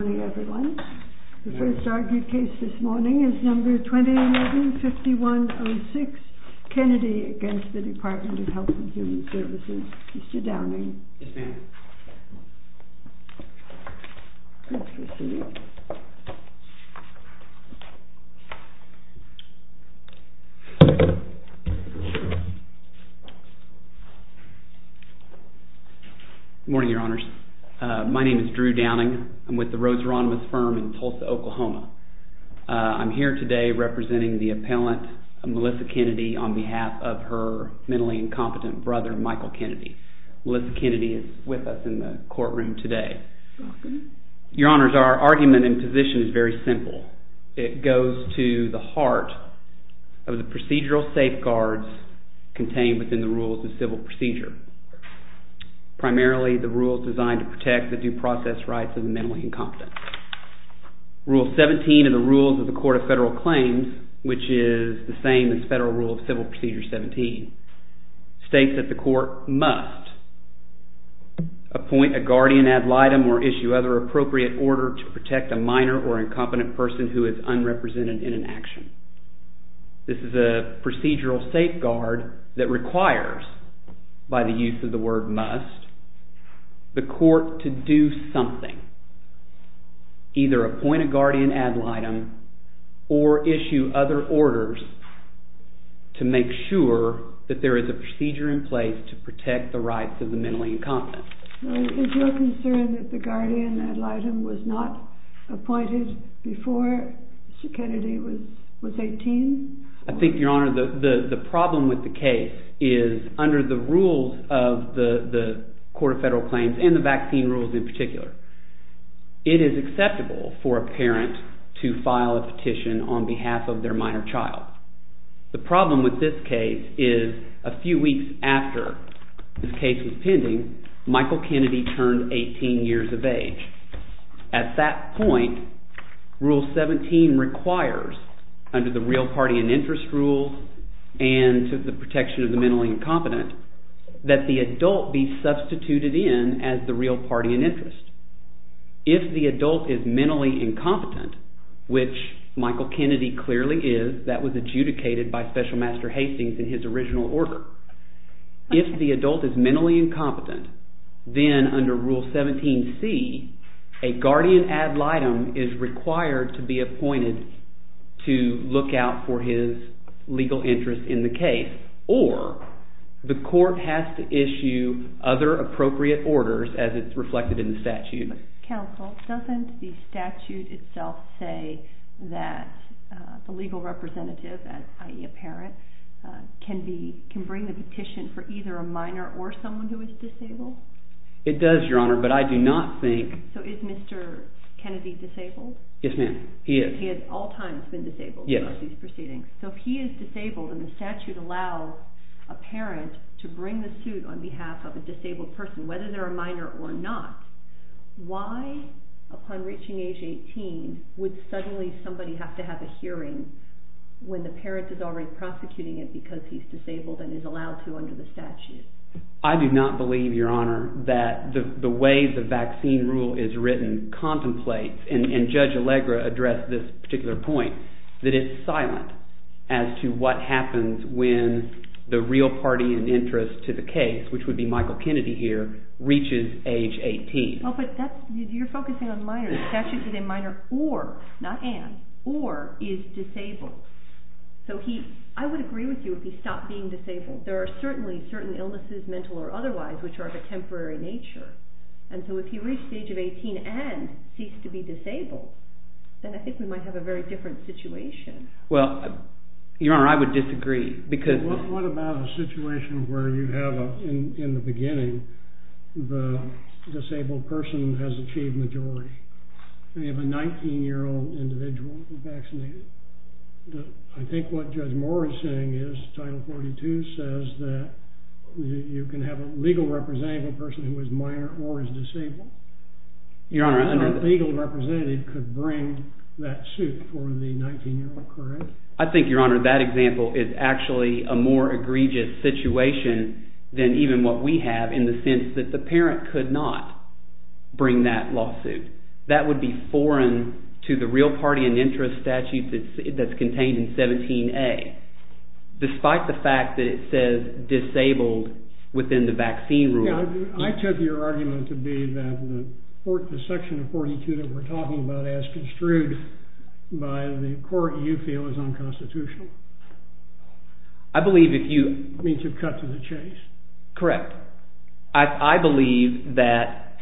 The first argued case this morning is number 2011-5106, Kennedy against the Department of Health and Human Services. Mr. Downing. Yes, ma'am. Good morning, your honors. My name is Drew Downing. I'm with the Rhodes Rhonda firm in Tulsa, Oklahoma. I'm here today representing the appellant, Melissa Kennedy, on behalf of her mentally incompetent brother, Michael Kennedy. Melissa Kennedy is with us in the courtroom today. Your honors, our argument and position is very simple. It goes to the heart of the procedural safeguards contained within the rules of civil procedure. Primarily the rules designed to protect the due process rights of the mentally incompetent. Rule 17 of the rules of the Court of Federal Claims, which is the same as Federal Rule of Civil Procedure 17, states that the court must appoint a guardian ad litem or issue other appropriate order to protect a minor or incompetent person who is unrepresented in an action. This is a procedural safeguard that requires, by the use of the word must, the court to do something. Either appoint a guardian ad litem or issue other orders to make sure that there is a procedure in place to protect the rights of the mentally incompetent. Is your concern that the guardian ad litem was not appointed before Mr. Kennedy was 18? I think, your honor, the problem with the case is, under the rules of the Court of Federal Claims, and the vaccine rules in particular, it is acceptable for a parent to file a petition on behalf of their minor child. The problem with this case is, a few weeks after the case was pending, Michael Kennedy turned 18 years of age. At that point, Rule 17 requires, under the real party and interest rules and the protection of the mentally incompetent, that the adult be substituted in as the real party and interest. If the adult is mentally incompetent, which Michael Kennedy clearly is, that was adjudicated by Special Master Hastings in his original order. If the adult is mentally incompetent, then under Rule 17c, a guardian ad litem is required to be appointed to look out for his legal interest in the case. Or, the court has to issue other appropriate orders as it's reflected in the statute. Counsel, doesn't the statute itself say that a legal representative, i.e. a parent, can bring the petition for either a minor or someone who is disabled? It does, your honor, but I do not think… So is Mr. Kennedy disabled? Yes, ma'am, he is. He has at all times been disabled? Yes. So if he is disabled and the statute allows a parent to bring the suit on behalf of a disabled person, whether they're a minor or not, why, upon reaching age 18, would suddenly somebody have to have a hearing when the parent is already prosecuting it because he's disabled and is allowed to under the statute? I do not believe, your honor, that the way the vaccine rule is written contemplates, and Judge Allegra addressed this particular point, that it's silent as to what happens when the real party in interest to the case, which would be Michael Kennedy here, reaches age 18. Oh, but you're focusing on minors. The statute said a minor or, not an, or is disabled. So he, I would agree with you if he stopped being disabled. There are certainly certain illnesses, mental or otherwise, which are of a temporary nature. And so if he reached the age of 18 and ceased to be disabled, then I think we might have a very different situation. Well, your honor, I would disagree because… But what about a situation where you have, in the beginning, the disabled person has achieved majority? We have a 19-year-old individual who's vaccinated. I think what Judge Moore is saying is, Title 42 says that you can have a legal representative, a person who is minor or is disabled. Your honor, I think… And a legal representative could bring that suit for the 19-year-old, correct? I think, your honor, that example is actually a more egregious situation than even what we have in the sense that the parent could not bring that lawsuit. That would be foreign to the real party in interest statute that's contained in 17A, despite the fact that it says disabled within the vaccine rule. I took your argument to be that the section of 42 that we're talking about as construed by the court you feel is unconstitutional. I believe if you… Means you've cut to the chase. Correct. I believe that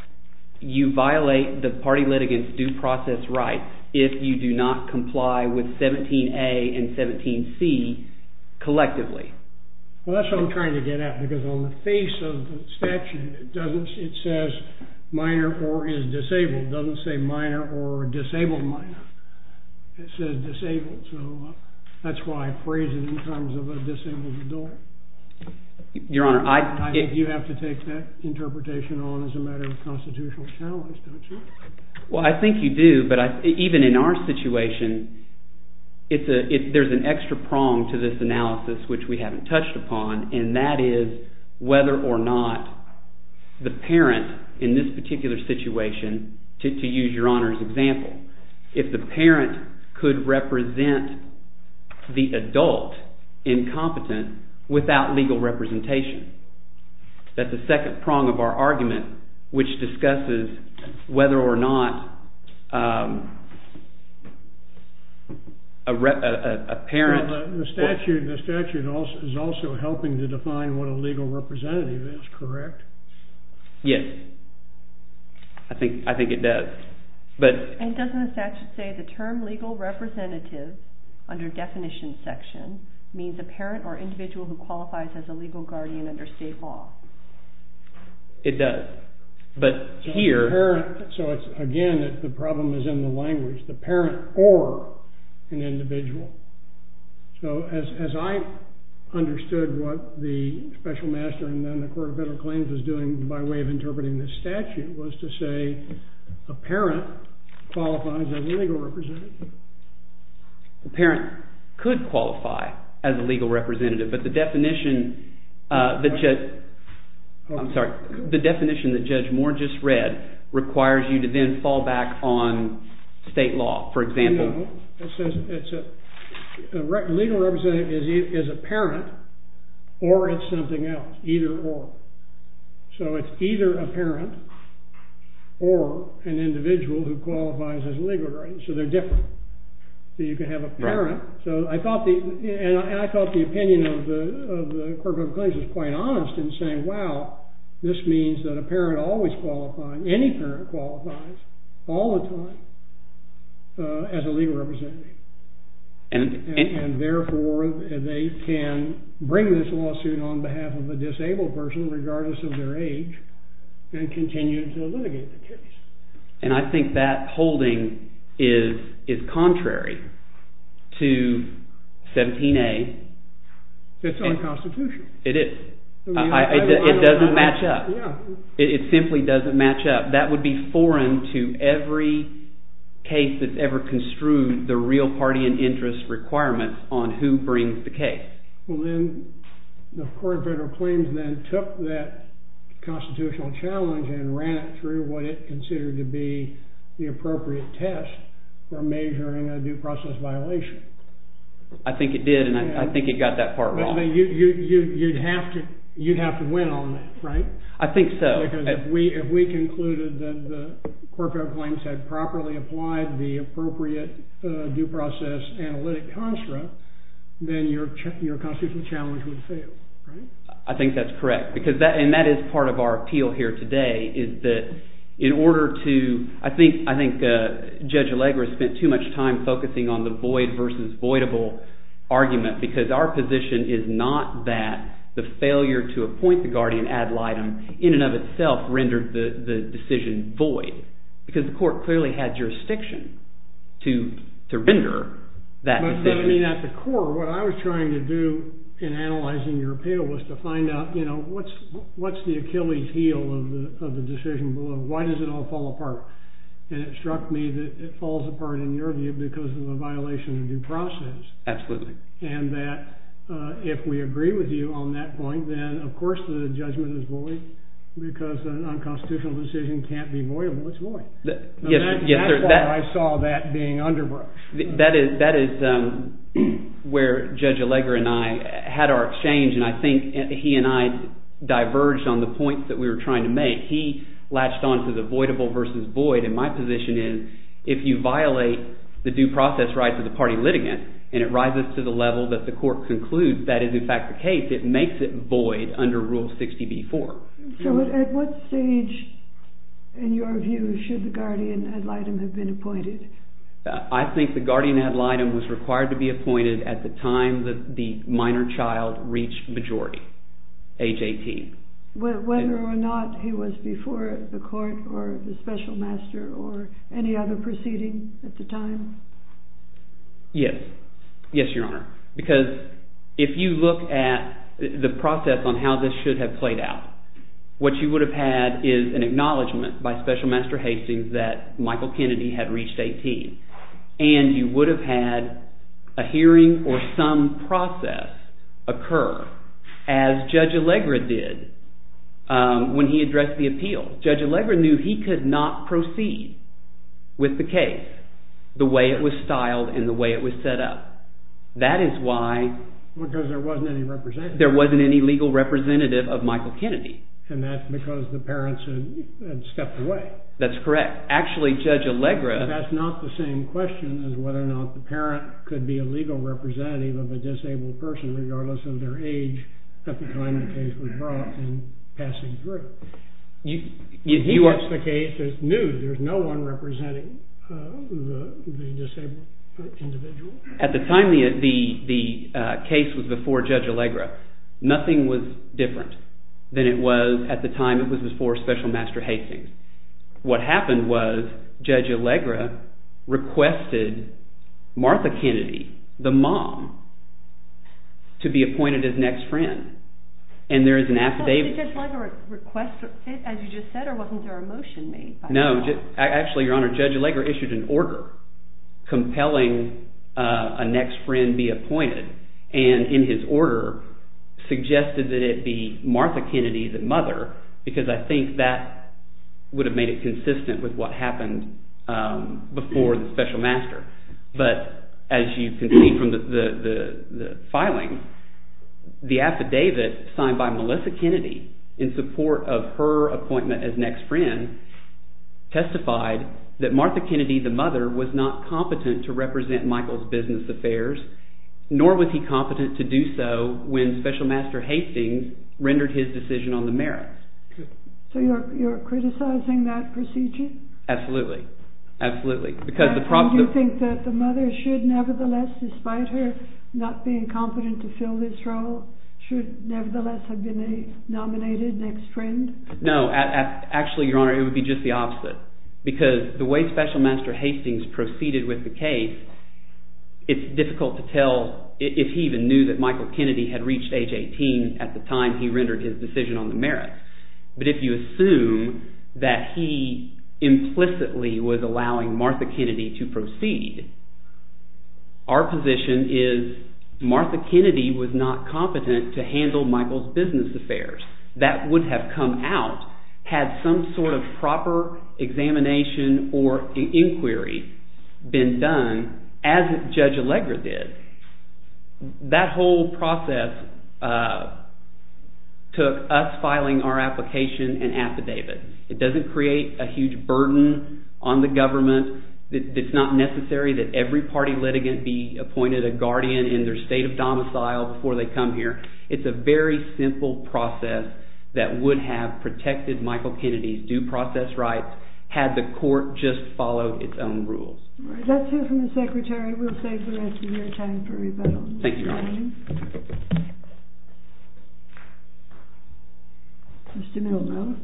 you violate the party litigant's due process rights if you do not comply with 17A and 17C collectively. Well, that's what I'm trying to get at, because on the face of the statute, it says minor or is disabled. It doesn't say minor or disabled minor. It says disabled, so that's why I phrase it in terms of a disabled adult. Your honor, I… I think you have to take that interpretation on as a matter of constitutional challenge, don't you? Well, I think you do, but even in our situation, there's an extra prong to this analysis which we haven't touched upon, and that is whether or not the parent in this particular situation, to use your honor's example, if the parent could represent the adult incompetent without legal representation. That's the second prong of our argument, which discusses whether or not a parent… The statute is also helping to define what a legal representative is, correct? Yes. I think it does. And doesn't the statute say the term legal representative, under definition section, means a parent or individual who qualifies as a legal guardian under state law? It does, but here… So it's, again, that the problem is in the language, the parent or an individual. So as I understood what the special master and then the court of federal claims was doing by way of interpreting this statute was to say a parent qualifies as a legal representative. A parent could qualify as a legal representative, but the definition that Judge Moore just read requires you to then fall back on state law, for example. A legal representative is a parent or it's something else, either or. So it's either a parent or an individual who qualifies as a legal guardian. So they're different. So you can have a parent. And I thought the opinion of the court of federal claims was quite honest in saying, wow, this means that a parent always qualifies, any parent qualifies, all the time as a legal representative. And therefore, they can bring this lawsuit on behalf of a disabled person, regardless of their age, and continue to litigate the case. And I think that holding is contrary to 17A. It's unconstitutional. It is. It doesn't match up. It simply doesn't match up. That would be foreign to every case that's ever construed the real party and interest requirements on who brings the case. Well, then the court of federal claims then took that constitutional challenge and ran it through what it considered to be the appropriate test for measuring a due process violation. I think it did. And I think it got that part wrong. You'd have to win on that, right? I think so. Because if we concluded that the court of federal claims had properly applied the appropriate due process analytic construct, then your constitutional challenge would fail, right? I think that's correct. And that is part of our appeal here today, is that in order to, I think Judge Allegra spent too much time focusing on the void versus voidable argument. Because our position is not that the failure to appoint the guardian ad litem, in and of itself, rendered the decision void. Because the court clearly had jurisdiction to render that decision. At the core, what I was trying to do in analyzing your appeal was to find out, what's the Achilles heel of the decision? Why does it all fall apart? And it struck me that it falls apart in an interview because of a violation of due process. Absolutely. And that if we agree with you on that point, then of course the judgment is void. Because a non-constitutional decision can't be voidable. It's void. Yes. That's why I saw that being underbrush. That is where Judge Allegra and I had our exchange. And I think he and I diverged on the point that we were trying to make. He latched onto the voidable versus void. And my position is, if you violate the due process right to the party litigant, and it rises to the level that the court concludes that is in fact the case, it makes it void under Rule 60b-4. So at what stage, in your view, should the guardian ad litem have been appointed? I think the guardian ad litem was required to be appointed at the time the minor child reached majority, age 18. Whether or not he was before the court or the special master or any other proceeding at the time? Yes. Yes, Your Honor. Because if you look at the process on how this should have played out, what you would have had is an acknowledgment by special master Hastings that Michael Kennedy had reached 18. And you would have had a hearing or some process occur as Judge Allegra did when he addressed the appeal. Judge Allegra knew he could not proceed with the case the way it was styled and the way it was set up. Because there wasn't any representative. There wasn't any legal representative of Michael Kennedy. And that's because the parents had stepped away. That's correct. Actually, Judge Allegra… That's not the same question as whether or not the parent could be a legal representative of a disabled person regardless of their age at the time the case was brought and passing through. He addressed the case and knew there was no one representing the disabled individual. At the time the case was before Judge Allegra, nothing was different than it was at the time it was before special master Hastings. What happened was Judge Allegra requested Martha Kennedy, the mom, to be appointed as next friend. And there is an affidavit… Did Judge Allegra request, as you just said, or wasn't there a motion made? No, actually, Your Honor, Judge Allegra issued an order compelling a next friend be appointed. And in his order suggested that it be Martha Kennedy, the mother, because I think that would have made it consistent with what happened before the special master. But as you can see from the filing, the affidavit signed by Melissa Kennedy in support of her appointment as next friend testified that Martha Kennedy, the mother, was not competent to represent Michael's business affairs, nor was he competent to do so when special master Hastings rendered his decision on the merits. So you're criticizing that procedure? Absolutely. Absolutely. Do you think that the mother should nevertheless, despite her not being competent to fill this role, should nevertheless have been nominated next friend? No. Actually, Your Honor, it would be just the opposite. Because the way special master Hastings proceeded with the case, it's difficult to tell if he even knew that Michael Kennedy had reached age 18 at the time he rendered his decision on the merits. But if you assume that he implicitly was allowing Martha Kennedy to proceed, our position is Martha Kennedy was not competent to handle Michael's business affairs. That would have come out had some sort of proper examination or inquiry been done as Judge Allegra did. That whole process took us filing our application and affidavit. It doesn't create a huge burden on the government. It's not necessary that every party litigant be appointed a guardian in their state of domicile before they come here. It's a very simple process that would have protected Michael Kennedy's due process rights had the court just followed its own rules. Let's hear from the Secretary. We'll save the rest of your time for rebuttal. Thank you, Your Honor. Mr. Miller.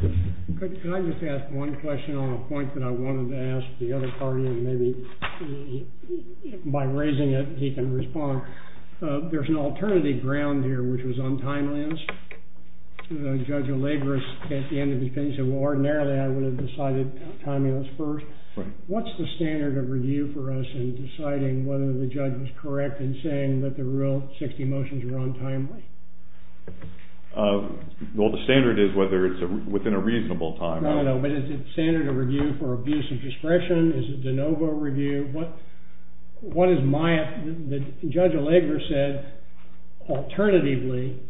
Can I just ask one question on a point that I wanted to ask the other party, and maybe by raising it he can respond? There's an alternative ground here, which was on timelines. Judge Allegra said at the end of the case, ordinarily I would have decided timelines first. What's the standard of review for us in deciding whether the judge was correct in saying that the real 60 motions were on timeline? Well, the standard is whether it's within a reasonable time. No, no, but is it standard of review for abuse of discretion? Is it de novo review? What is my opinion? Judge Allegra said, alternatively,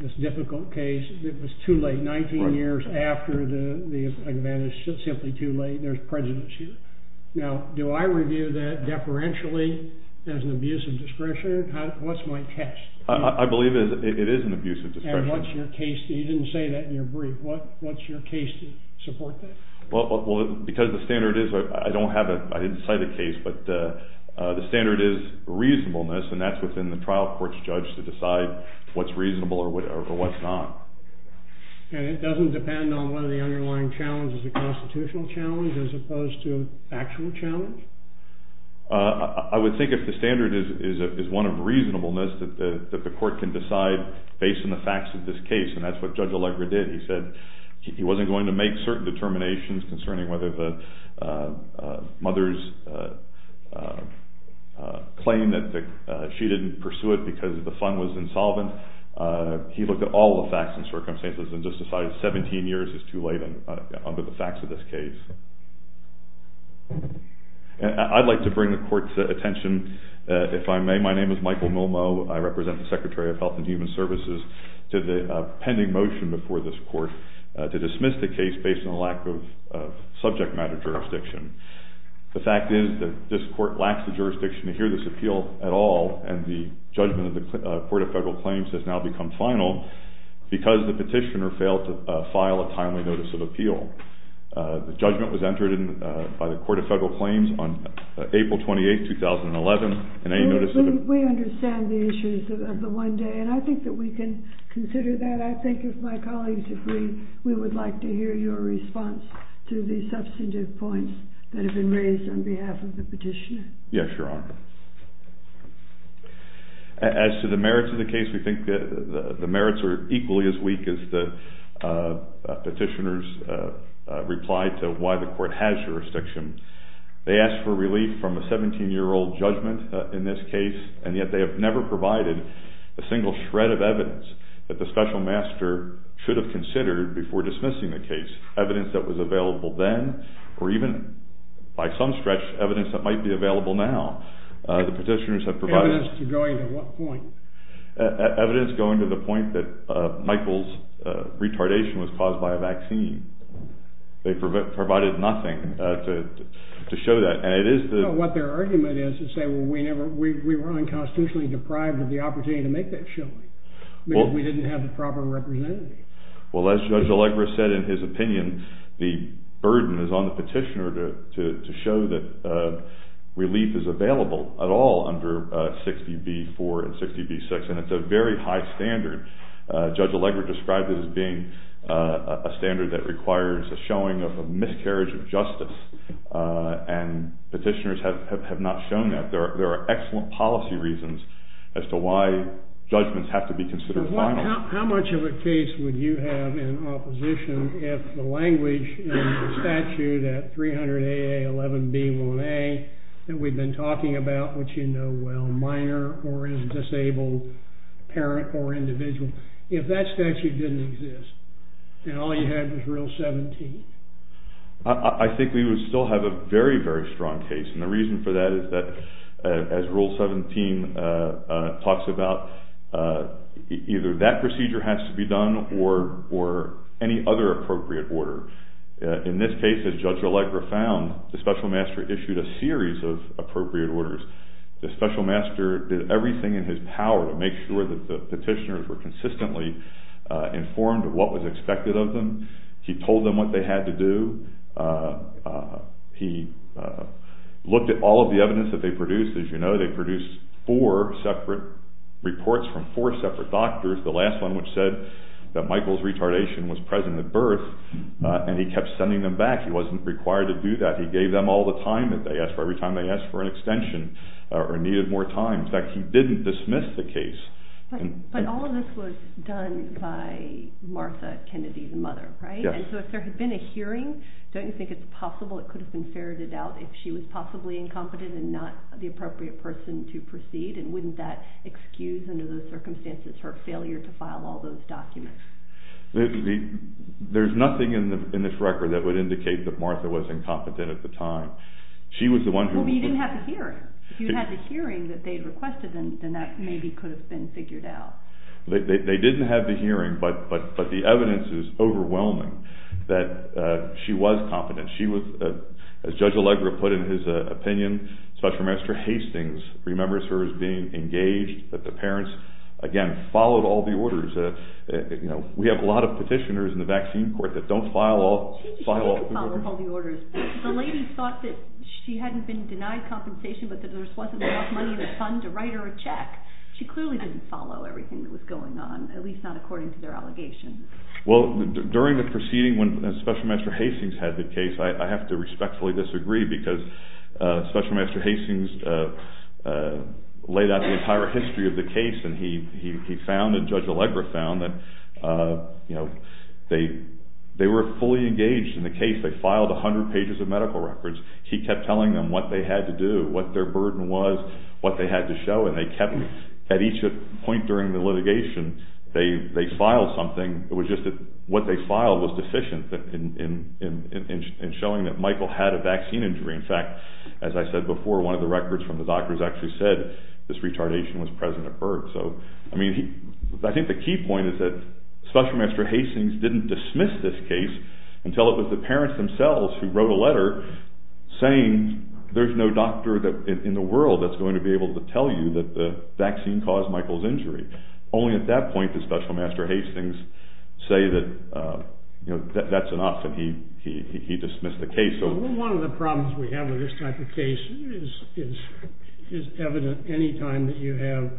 this difficult case, it was too late. 19 years after the advantage, it's simply too late. There's prejudice here. Now, do I review that deferentially as an abuse of discretion? What's my test? I believe it is an abuse of discretion. And what's your case? You didn't say that in your brief. What's your case to support that? Well, because the standard is, I didn't cite a case, but the standard is reasonableness. And that's within the trial court's judge to decide what's reasonable or what's not. And it doesn't depend on whether the underlying challenge is a constitutional challenge as opposed to a factual challenge? I would think if the standard is one of reasonableness, that the court can decide based on the facts of this case. And that's what Judge Allegra did. He said he wasn't going to make certain determinations concerning whether the mother's claim that she didn't pursue it because the fund was insolvent. He looked at all the facts and circumstances and justified 17 years as too late under the facts of this case. I'd like to bring the court's attention, if I may. Good evening. My name is Michael Milmo. I represent the Secretary of Health and Human Services to the pending motion before this court to dismiss the case based on a lack of subject matter jurisdiction. The fact is that this court lacks the jurisdiction to hear this appeal at all, and the judgment of the Court of Federal Claims has now become final because the petitioner failed to file a timely notice of appeal. The judgment was entered by the Court of Federal Claims on April 28, 2011. Can I get a second? We understand the issues of the one day, and I think that we can consider that. I think if my colleagues agree, we would like to hear your response to the substantive points that have been raised on behalf of the petitioner. Yes, Your Honor. As to the merits of the case, we think that the merits are equally as weak as the petitioner's reply to why the court has jurisdiction. They asked for relief from a 17-year-old judgment in this case, and yet they have never provided a single shred of evidence that the special master should have considered before dismissing the case, evidence that was available then, or even, by some stretch, evidence that might be available now. The petitioners have provided evidence going to the point that Michael's retardation was caused by a vaccine. They provided nothing to show that. What their argument is to say, well, we were unconstitutionally deprived of the opportunity to make that judgment because we didn't have the proper representation. Well, as Judge Allegra said in his opinion, the burden is on the petitioner to show that relief is available at all under 60b-4 and 60b-6, and it's a very high standard. Judge Allegra described it as being a standard that requires a showing of a miscarriage of justice, and petitioners have not shown that. There are excellent policy reasons as to why judgments have to be considered finally. How much of a case would you have in opposition if the language in the statute at 300AA-11B-1A that we've been talking about, which you know well, minor or is disabled, parent or individual, if that statute didn't exist and all you have is Rule 17? I think we would still have a very, very strong case, and the reason for that is that as Rule 17 talks about, either that procedure has to be done or any other appropriate order. In this case, as Judge Allegra found, the special master issued a series of appropriate orders. The special master did everything in his power to make sure that the petitioners were consistently informed of what was expected of them. He told them what they had to do. He looked at all of the evidence that they produced. As you know, they produced four separate reports from four separate doctors, the last one which said that Michael's retardation was present at birth, and he kept sending them back. He wasn't required to do that. He gave them all the time that they asked for every time they asked for an extension or needed more time. In fact, he didn't dismiss the case. But all of this was done by Martha Kennedy's mother, right? Yes. So if there had been a hearing, don't you think it's possible it could have been ferreted out if she was possibly incompetent and not the appropriate person to proceed, and wouldn't that excuse under those circumstances her failure to file all those documents? There's nothing in this record that would indicate that Martha was incompetent at the time. She was the one who… But you didn't have the hearing. If you had the hearing that they requested, then that maybe could have been figured out. They didn't have the hearing, but the evidence is overwhelming that she was competent. She was, as Judge Allegra put it in his opinion, Special Administrator Hastings remembers her as being engaged, that the parents, again, followed all the orders. You know, we have a lot of petitioners in the vaccine court that don't file all the orders. The lady thought that she hadn't been denied compensation, but that there just wasn't enough money in the fund to write her a check. She clearly didn't follow everything that was going on, at least not according to their allegations. Well, during the proceeding when Special Administrator Hastings had the case, I have to respectfully disagree because Special Administrator Hastings laid out the entire history of the case, and he found and Judge Allegra found that they were fully engaged in the case. They filed 100 pages of medical records. He kept telling them what they had to do, what their burden was, what they had to show, and they kept… At each point during the litigation, they filed something. It was just that what they filed was deficient in showing that Michael had a vaccine injury. In fact, as I said before, one of the records from the doctors actually said this retardation was present at birth. So, I mean, I think the key point is that Special Administrator Hastings didn't dismiss this case until it was the parents themselves who wrote a letter saying there's no doctor in the world that's going to be able to tell you that the vaccine caused Michael's injury. Only at that point did Special Administrator Hastings say that, you know, that's enough and he dismissed the case. One of the problems we have with this type of case is evident any time that you have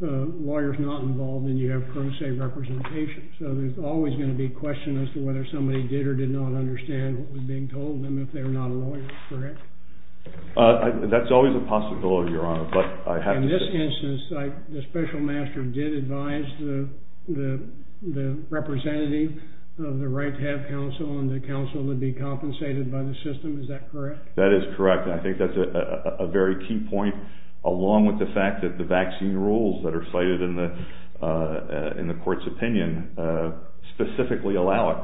lawyers not involved and you have current state representation. So, there's always going to be a question as to whether somebody did or did not understand what was being told them if they were not lawyers, correct? That's always a possibility, Your Honor, but I have to say… In this instance, the special magistrate did advise the representative of the right-hand council and the council to be compensated by the system. Is that correct? That is correct. I think that's a very key point, along with the fact that the vaccine rules that are cited in the court's opinion specifically allow it.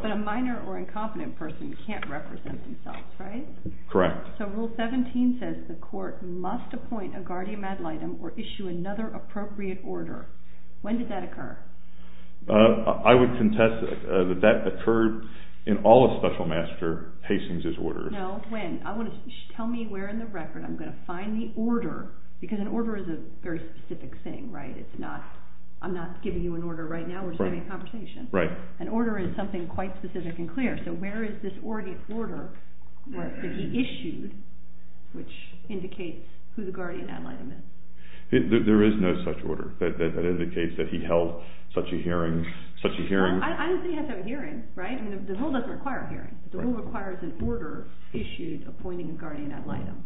But a minor or incompetent person can't represent themselves, right? Correct. So, Rule 17 says the court must appoint a guardian ad litem or issue another appropriate order. When did that occur? I would contest that that occurred in all of Special Administrator Hastings' orders. No, when? Tell me where in the record I'm going to find the order, because an order is a very specific thing, right? I'm not giving you an order right now, we're just having a conversation. Right. An order is something quite specific and clear, so where is this order that he issued, which indicates who the guardian ad litem is? There is no such order that indicates that he held such a hearing. I don't think he held a hearing, right? The rule doesn't require a hearing. The rule requires an order issued appointing a guardian ad litem.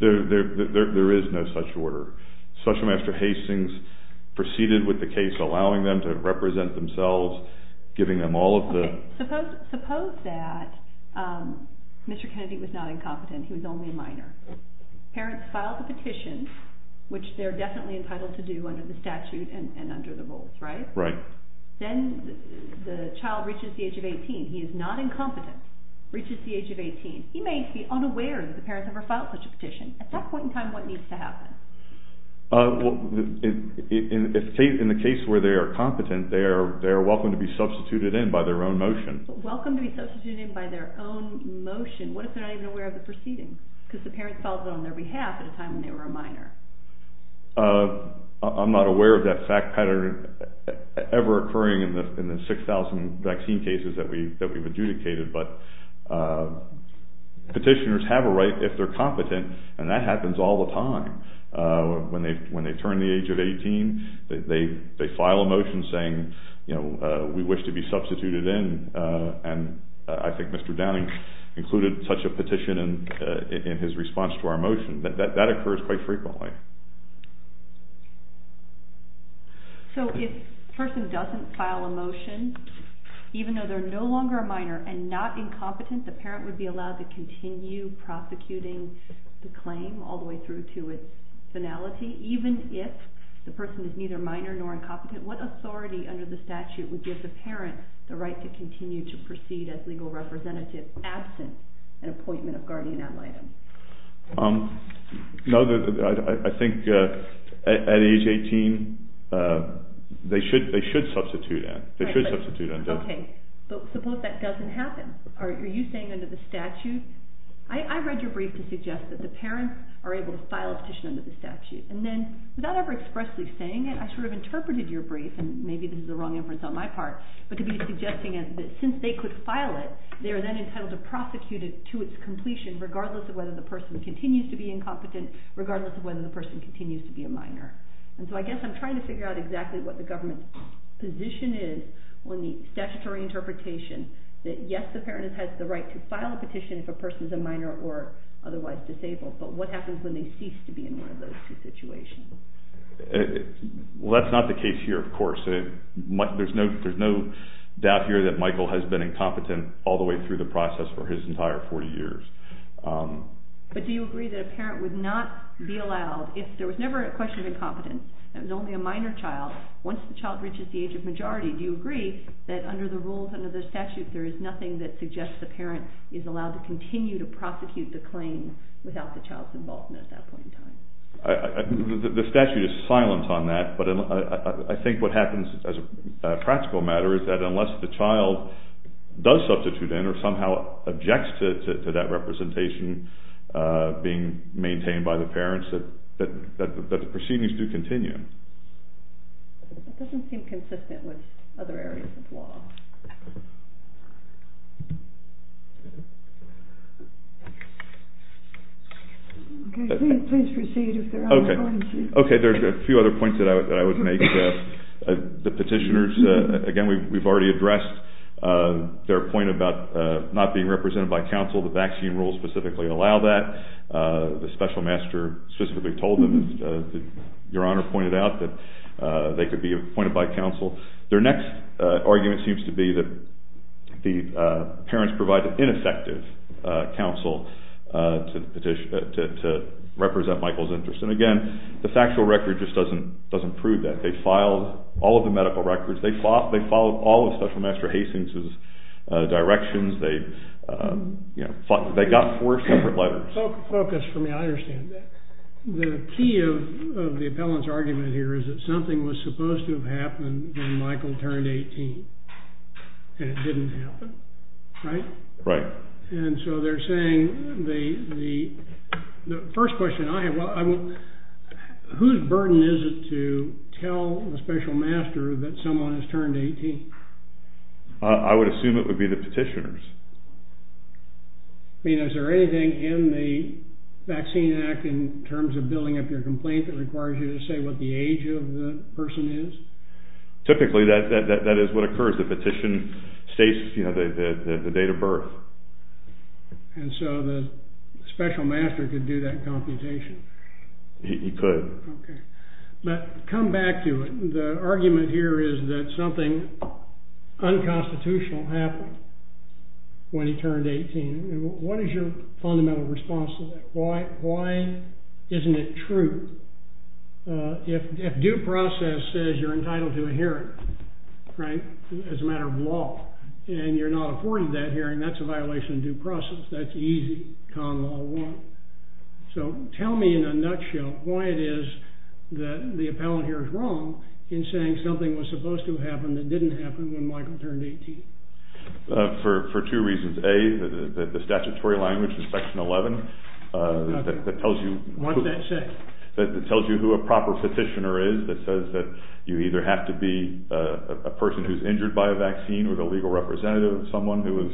There is no such order. Special Administrator Hastings proceeded with the case allowing them to represent themselves, giving them all of the... Suppose that Mr. Kennedy was not incompetent, he was only a minor. Parents filed a petition, which they're definitely entitled to do under the statute and under the rules, right? Right. Then the child reaches the age of 18. He is not incompetent, reaches the age of 18. He may be unaware that the parents ever filed such a petition. At that point in time, what needs to happen? In the case where they are competent, they are welcome to be substituted in by their own motion. Welcome to be substituted in by their own motion. What if they're not even aware of the proceedings? Because the parents filed it on their behalf at a time when they were a minor. I'm not aware of that fact pattern ever occurring in the 6,000 vaccine cases that we've adjudicated. But petitioners have a right if they're competent, and that happens all the time. When they turn the age of 18, they file a motion saying, you know, we wish to be substituted in. And I think Mr. Downing included such a petition in his response to our motion. That occurs quite frequently. So if a person doesn't file a motion, even though they're no longer a minor and not incompetent, the parent would be allowed to continue prosecuting the claim all the way through to its finality? Even if the person is neither minor nor incompetent, what authority under the statute would give the parent the right to continue to proceed as legal representative, absent an appointment of guardian ad litem? No, I think at age 18, they should substitute that. Okay, but suppose that doesn't happen. Are you saying under the statute? I read your brief to suggest that the parents are able to file a petition under the statute. And then, without ever expressly saying it, I should have interpreted your brief, and maybe this is the wrong inference on my part, but to be suggesting that since they could file it, they are then entitled to prosecute it to its completion regardless of whether the person continues to be incompetent, regardless of whether the person continues to be a minor. And so I guess I'm trying to figure out exactly what the government's position is on the statutory interpretation that yes, the parent has the right to file a petition if a person is a minor or otherwise disabled, but what happens when they cease to be in one of those two situations? Well, that's not the case here, of course. There's no doubt here that Michael has been incompetent all the way through the process for his entire four years. But do you agree that a parent would not be allowed, if there was never a question of incompetence, that it was only a minor child, once the child reaches the age of majority, do you agree that under the rules, under the statute, there is nothing that suggests the parent is allowed to continue to prosecute the claim without the child's involvement at that point in time? The statute is silent on that, but I think what happens as a practical matter is that unless the child does substitute in or somehow objects to that representation being maintained by the parents, that the proceedings do continue. That doesn't seem consistent with other areas of law. Okay, there's a few other points that I would make. The petitioners, again, we've already addressed their point about not being represented by counsel, the vaccine rules specifically allow that. The special master specifically told them, as Your Honor pointed out, that they could be appointed by counsel. Their next argument seems to be that the parents provide ineffective counsel to represent Michael's interests. And again, the factual record just doesn't prove that. They filed all of the medical records. They followed all of Special Master Hastings' directions. They got four separate letters. The key of the appellant's argument here is that something was supposed to have happened when Michael turned 18, and it didn't happen, right? Right. And so they're saying, the first question I have, whose burden is it to tell the special master that someone has turned 18? I would assume it would be the petitioners. Is there anything in the Vaccine Act in terms of building up your complaint that requires you to say what the age of the person is? Typically, that is what occurs. The petition states the date of birth. And so the special master could do that computation. He could. But come back to it. The argument here is that something unconstitutional happened when he turned 18. What is your fundamental response to that? Why isn't it true? If due process says you're entitled to a hearing, right, as a matter of law, and you're not afforded that hearing, that's a violation of due process. That's easy. Common law won't. So tell me in a nutshell why it is that the appellant here is wrong in saying something was supposed to have happened that didn't happen when Michael turned 18. For two reasons. A, the statutory language in Section 11 that tells you who a proper petitioner is that says that you either have to be a person who's injured by a vaccine or the legal representative of someone who has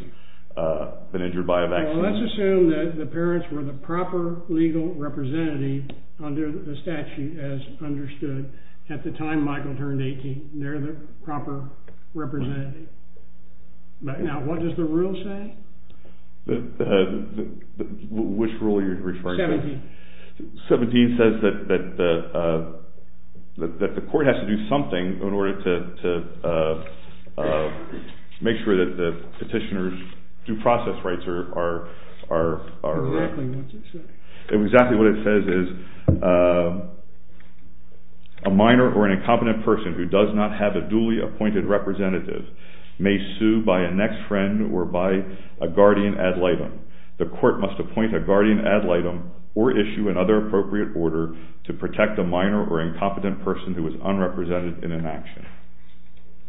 been injured by a vaccine. So let's assume that the parents were the proper legal representative under the statute as understood at the time Michael turned 18. They're the proper representative. Now, what does the rule say? Which rule are you referring to? 17. 17 says that the court has to do something in order to make sure that the petitioner's due process rights are met. Exactly what it says is a minor or an incompetent person who does not have a duly appointed representative may sue by a next friend or by a guardian ad litem. The court must appoint a guardian ad litem or issue another appropriate order to protect a minor or incompetent person who is unrepresented in an action.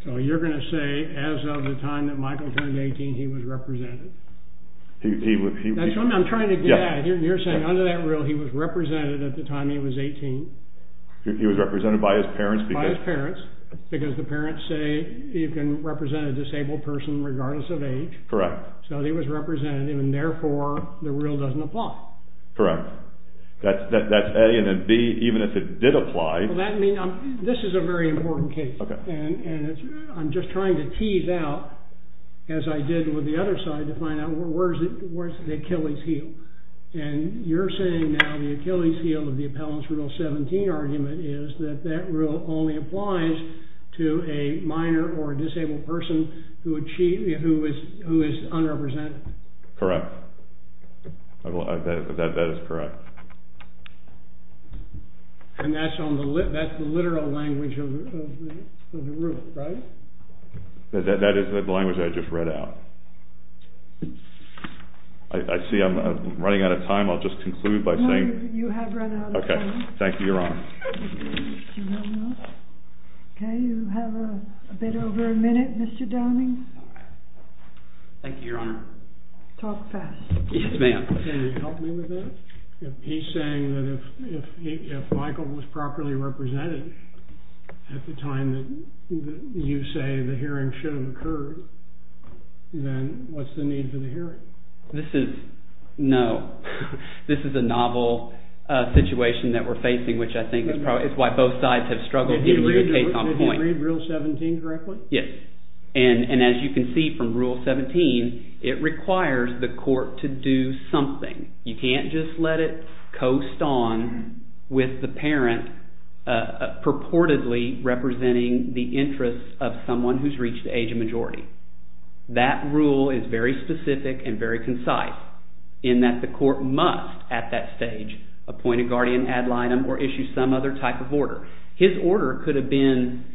So you're going to say as of the time that Michael turned 18 he was represented. That's what I'm trying to get at. You're saying under that rule he was represented at the time he was 18. He was represented by his parents. By his parents. Because the parents say you can represent a disabled person regardless of age. Correct. So he was represented and therefore the rule doesn't apply. Correct. That's A. And then B, even if it did apply. This is a very important case. And I'm just trying to tease out, as I did with the other side, to find out where's the Achilles heel. And you're saying now the Achilles heel of the appellant's rule 17 argument is that that rule only applies to a minor or a disabled person who is unrepresented. Correct. That is correct. And that's the literal language of the rule, right? That is the language I just read out. I see I'm running out of time. I'll just conclude by saying. You have run out of time. Okay. Thank you, Your Honor. Okay. You have a bit over a minute, Mr. Downing. Thank you, Your Honor. Talk fast. Yes, ma'am. Can you help me with that? He's saying that if Michael was properly represented at the time that you say the hearing should have occurred, then what's the need for the hearing? This is, no. This is a novel situation that we're facing, which I think is why both sides have struggled to even take my point. Did you read rule 17 correctly? Yes. And as you can see from rule 17, it requires the court to do something. You can't just let it coast on with the parent purportedly representing the interests of someone who's reached the age of majority. That rule is very specific and very concise in that the court must, at that stage, appoint a guardian ad litem or issue some other type of order. His order could have been,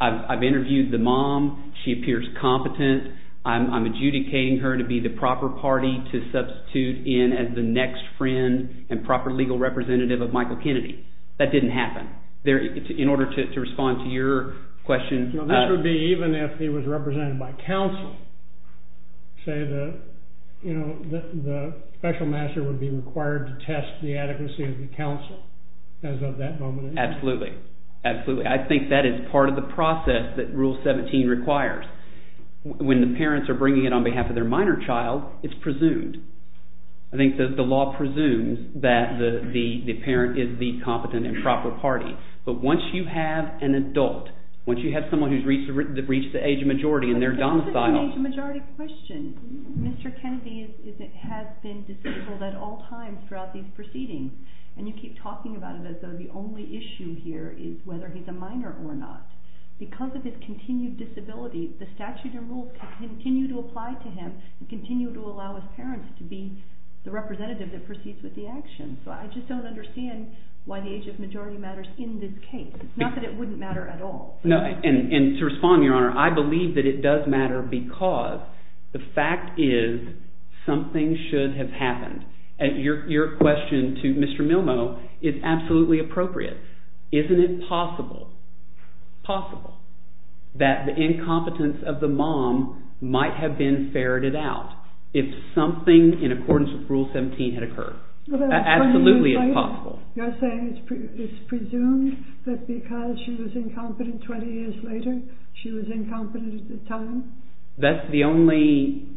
I've interviewed the mom. She appears competent. I'm adjudicating her to be the proper party to substitute in as the next friend and proper legal representative of Michael Kennedy. That didn't happen. In order to respond to your question. That would be even if he was represented by counsel. Say that, you know, the special master would be required to test the adequacy of the counsel as of that moment. Absolutely. Absolutely. I think that is part of the process that rule 17 requires. When the parents are bringing it on behalf of their minor child, it's presumed. I think that the law presumes that the parent is the competent and proper party. But once you have an adult, once you have someone who's reached the age of majority and they're domiciled. But that's an age of majority question. Mr. Kennedy has been disabled at all times throughout these proceedings. And you keep talking about it as though the only issue here is whether he's a minor or not. Because of his continued disability, the statute and rules continue to apply to him and continue to allow his parents to be the representative that proceeds with the action. But I just don't understand why the age of majority matters in this case. Not that it wouldn't matter at all. And to respond, Your Honor, I believe that it does matter because the fact is something should have happened. Your question to Mr. Milmo is absolutely appropriate. Isn't it possible, possible, that the incompetence of the mom might have been ferreted out if something in accordance with rule 17 had occurred? Absolutely it's possible. You're saying it's presumed that because she was incompetent 20 years later, she was incompetent at the time? That's the only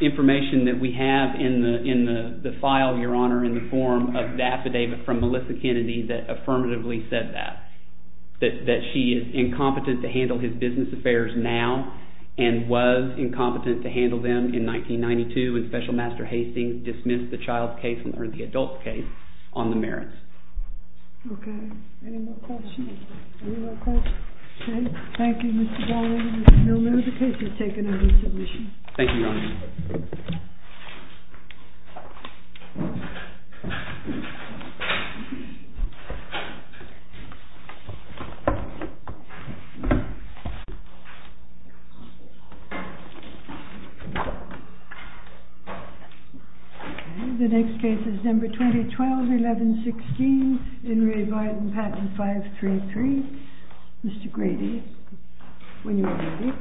information that we have in the file, Your Honor, in the form of data from Melissa Kennedy that affirmatively said that. That she is incompetent to handle his business affairs now and was incompetent to handle them in 1992 when Special Master Hastings dismissed the child's case or the adult's case on the merits. Okay. Any more questions? Any more questions? Okay. Thank you, Mr. Baldwin and Mr. Milmo. The case is taken under submission. The next case is number 2012-11-16, Enri Varden, Patent 533. Mr. Grady, when you're ready.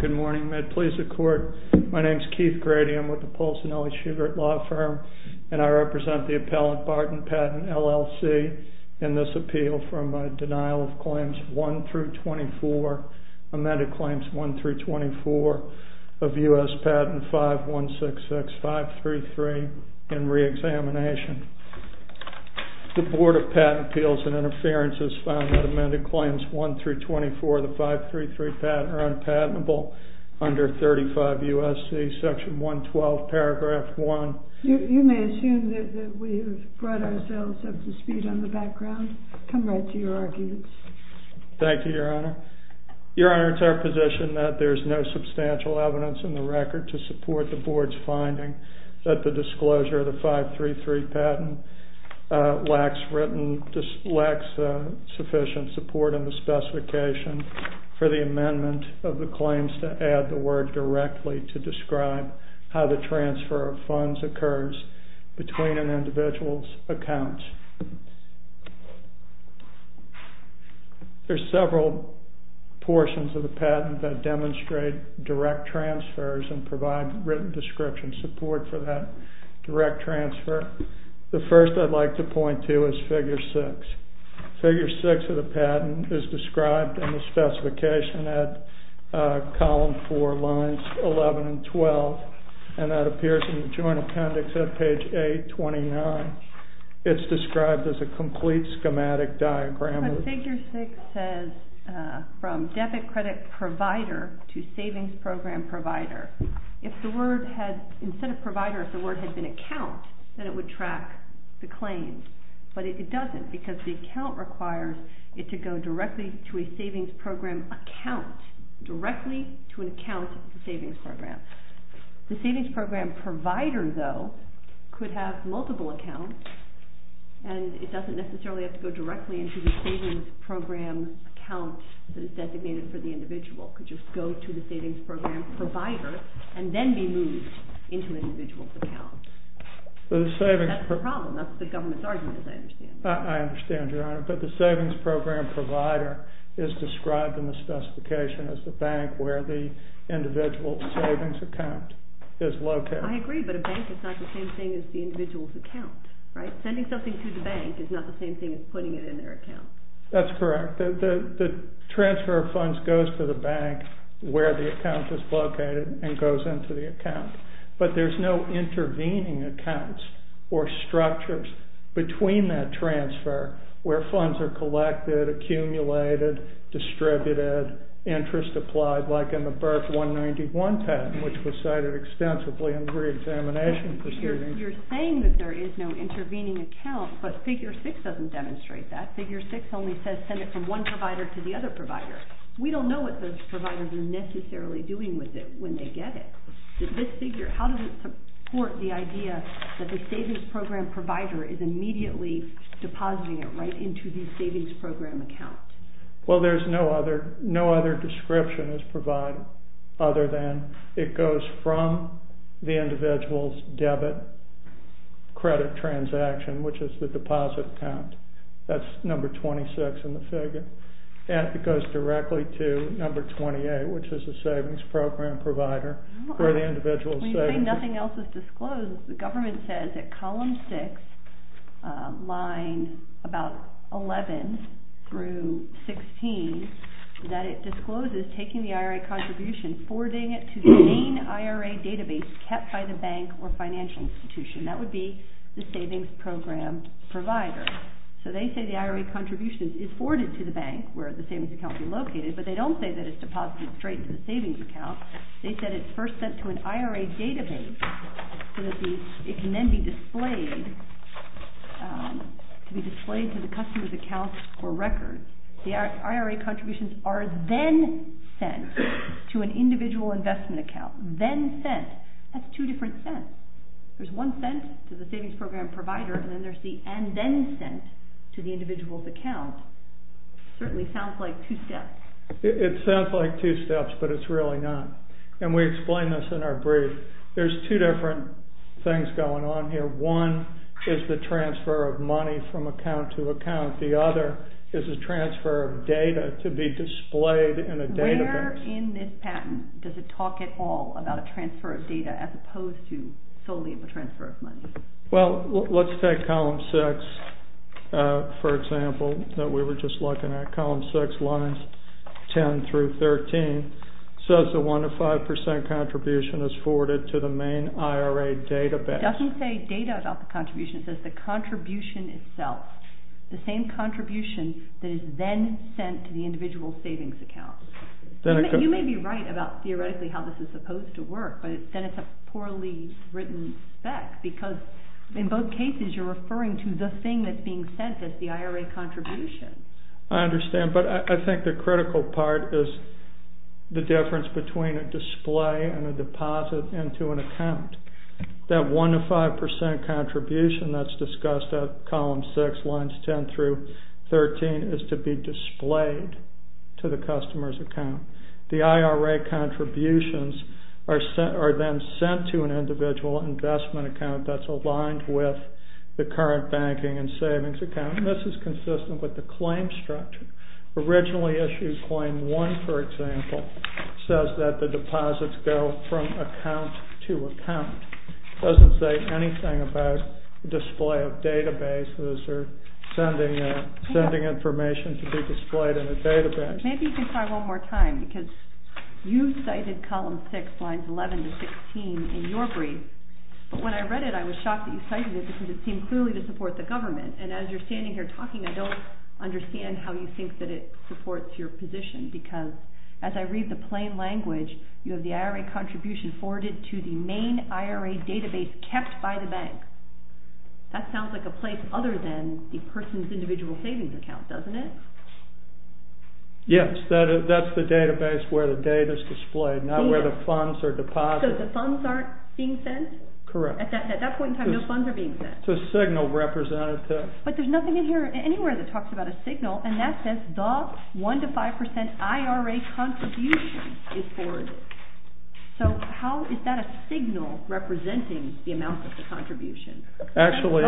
Good morning. May it please the Court. My name is Keith Grady. I'm with the Paul Cinelli Shugart Law Firm, and I represent the Appellant Varden Patent LLC in this appeal for my denial of claims 1 through 24, amended claims 1 through 24 of U.S. Patent 5166-533 in reexamination. The Board of Patent Appeals and Interference has found that amended claims 1 through 24 of the 533 patent are unpatentable under 35 U.S.C. section 112 paragraph 1. You may assume that we have brought ourselves up to speed on the background. Come right to your arguments. Thank you, Your Honor. Your Honor, it's our position that there's no substantial evidence in the record to support the Board's finding that the disclosure of the 533 patent lacks sufficient support in the specification for the amendment of the claims to add the word directly to describe how the transfer of funds occurs between an individual's accounts. There's several portions of the patent that demonstrate direct transfers and provide written description support for that direct transfer. The first I'd like to point to is Figure 6. Figure 6 of the patent is described in the specification at column 4, lines 11 and 12, and that appears in the Joint Appendix at page 829. It's described as a complete schematic diagram. Figure 6 says from debit credit provider to savings program provider. If the word had, instead of provider, if the word had been account, then it would track the claim, but it doesn't because the account requires it to go directly to a savings program account, directly to an account of the savings program. The savings program provider, though, could have multiple accounts, and it doesn't necessarily have to go directly into the savings program account that is designated for the individual. It could just go to the savings program provider and then be moved into the individual's account. That's the problem. That's the government's argument, as I understand it. I understand, Your Honor, but the savings program provider is described in the specification as a bank where the individual's savings account is located. I agree, but a bank is not the same thing as the individual's account, right? Sending something to the bank is not the same thing as putting it in their account. That's correct. The transfer of funds goes to the bank where the account is located and goes into the account, but there's no intervening accounts or structures between that transfer where funds are collected, accumulated, distributed, interest applied, like in the birth 191 patent, which was cited extensively in the reexamination proceedings. You're saying that there is no intervening account, but Figure 6 doesn't demonstrate that. Figure 6 only says send it from one provider to the other provider. We don't know what those providers are necessarily doing with it when they get it. How does it support the idea that the savings program provider is immediately depositing it right into the savings program account? Well, there's no other description as provided other than it goes from the individual's debit credit transaction, which is the deposit account. That's number 26 in the figure. It goes directly to number 28, which is the savings program provider for the individual's savings. When you say nothing else was disclosed, the government says that column 6, line about 11 through 16, that it discloses taking the IRA contribution, forwarding it to the main IRA database kept by the bank or financial institution. That would be the savings program provider. So they say the IRA contribution is forwarded to the bank where the savings account is located, but they don't say that it's deposited straight to the savings account. They said it's first sent to an IRA database so that it can then be displayed to the customer's account for record. The IRA contributions are then sent to an individual investment account. Then sent. That's two different sents. There's one sent to the savings program provider, and then there's the and then sent to the individual's account. It certainly sounds like two steps. It sounds like two steps, but it's really not. And we explain this in our brief. There's two different things going on here. One is the transfer of money from account to account. The other is a transfer of data to be displayed in a database. Where in this patent does it talk at all about a transfer of data as opposed to solely the transfer of money? Well, let's take column six, for example, that we were just looking at. Column six, lines 10 through 13, says the one to five percent contribution is forwarded to the main IRA database. It doesn't say data about the contribution. It says the contribution itself. The same contribution that is then sent to the individual savings account. You may be right about theoretically how this is supposed to work, but then it's a poorly written spec, because in both cases you're referring to the thing that's being sent as the IRA contribution. I understand, but I think the critical part is the difference between a display and a deposit into an account. That one to five percent contribution that's discussed at column six, lines 10 through 13, is to be displayed to the customer's account. The IRA contributions are then sent to an individual investment account that's aligned with the current banking and savings account. This is consistent with the claim structure. Originally issued claim one, for example, says that the deposits go from account to account. It doesn't say anything about display of databases or sending information to be displayed in a database. Maybe you can try one more time, because you cited column six, lines 11 to 16 in your brief, but when I read it, I was shocked that you cited it, because it seemed clearly to support the government. As you're standing here talking, I don't understand how you think that it supports your position, because as I read the plain language, you have the IRA contribution forwarded to the main IRA database kept by the bank. That sounds like a place other than the person's individual savings account, doesn't it? Yes, that's the database where the data is displayed, not where the funds are deposited. So the funds aren't being sent? Correct. At that point in time, no funds are being sent. It's a signal representative. But there's nothing in here anywhere that talks about a signal, and that says the 1-5% IRA contribution is forwarded. So how is that a signal representing the amount of the contribution? Actually,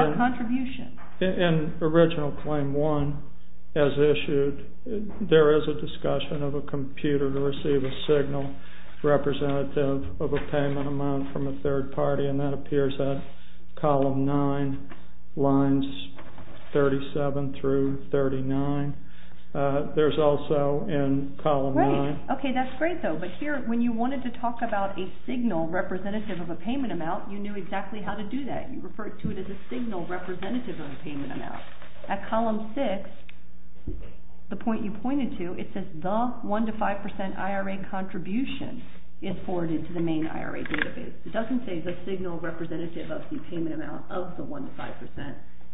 in original claim one, as issued, there is a discussion of a computer to receive a signal representative of a payment amount from a third party, and that appears in column nine, lines 37 through 39. There's also in column nine. Okay, that's great though, but here, when you wanted to talk about a signal representative of a payment amount, you knew exactly how to do that. You referred to it as a signal representative of a payment amount. At column six, the point you pointed to, it says the 1-5% IRA contribution is forwarded to the main IRA database. It doesn't say the signal representative of the payment amount of the 1-5%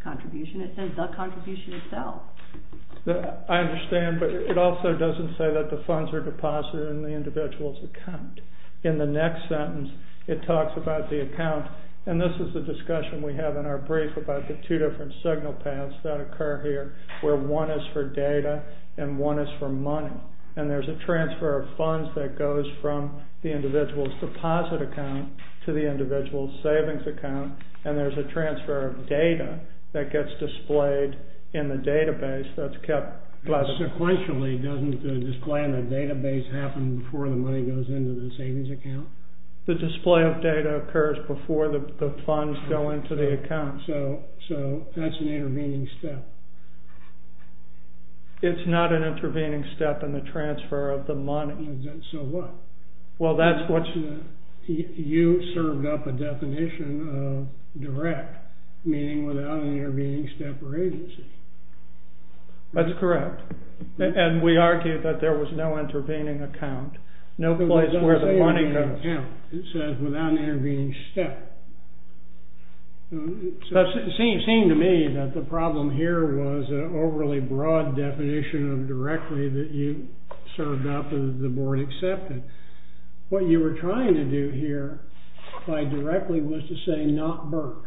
contribution. It says the contribution itself. I understand, but it also doesn't say that the funds are deposited in the individual's account. In the next sentence, it talks about the account, and this is the discussion we have in our brief about the two different signal paths that occur here, where one is for data and one is for money. And there's a transfer of funds that goes from the individual's deposit account to the individual's savings account, and there's a transfer of data that gets displayed in the database that's kept. The display of data occurs before the funds go into the account, so that's an intervening step. It's not an intervening step in the transfer of the money. So what? Well, that's what's in the... You served up a definition of direct, meaning without an intervening step or agency. That's correct. And we argued that there was no intervening account, no place where the money goes. It says without an intervening step. It seemed to me that the problem here was an overly broad definition of directly that you served up and the board accepted. What you were trying to do here by directly was to say not Burke.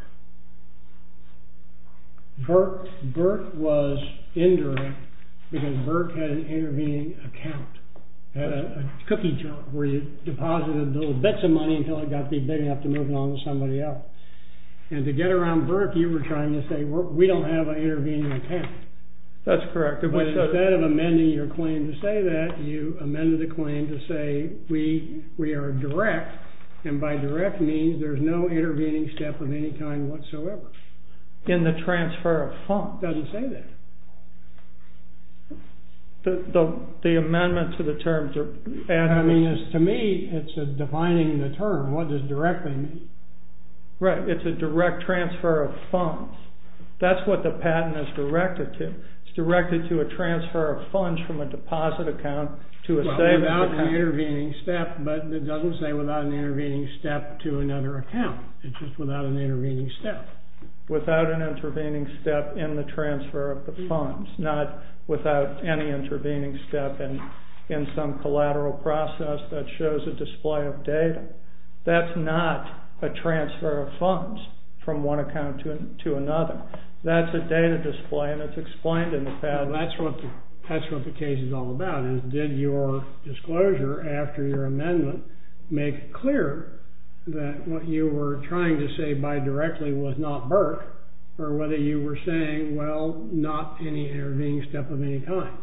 Burke was indirect because Burke had an intervening account, a cookie jar where you deposited those bits of money until it got big enough to move along with somebody else. And to get around Burke, you were trying to say we don't have an intervening account. That's correct. But instead of amending your claim to say that, you amended the claim to say we are direct, and by direct means, there's no intervening step of any kind whatsoever. In the transfer of funds. It doesn't say that. The amendment to the terms of... And I mean, to me, it's defining the term. What does direct mean? Right, it's a direct transfer of funds. That's what the patent is directed to. It's directed to a transfer of funds from a deposit account to a... Without an intervening step, but it doesn't say without an intervening step to another account. It's just without an intervening step. Without an intervening step in the transfer of the funds. Not without any intervening step in some collateral process that shows a display of data. That's not a transfer of funds from one account to another. That's a data display, and it's explained in the patent. That's what the case is all about, is did your disclosure after your amendment make it clear that what you were trying to say by directly was not Berk, or whether you were saying, well, not any intervening step of any kind.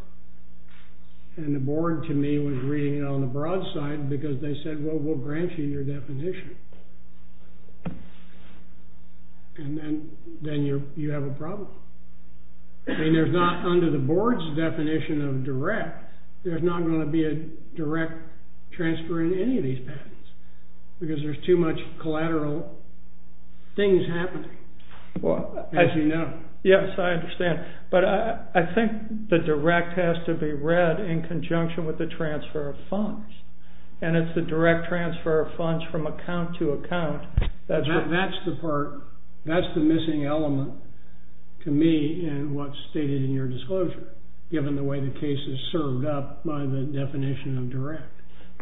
And the board, to me, was reading it on the broad side, because they said, well, we'll grant you your definition. And then you have a problem. And there's not, under the board's definition of direct, there's not going to be a direct transfer in any of these patents. Because there's too much collateral things happening, as you know. Yes, I understand. But I think the direct has to be read in conjunction with the transfer of funds. And it's the direct transfer of funds from account to account. That's the part. That's the missing element to me in what's stated in your disclosure, given the way the case is served up by the definition of direct.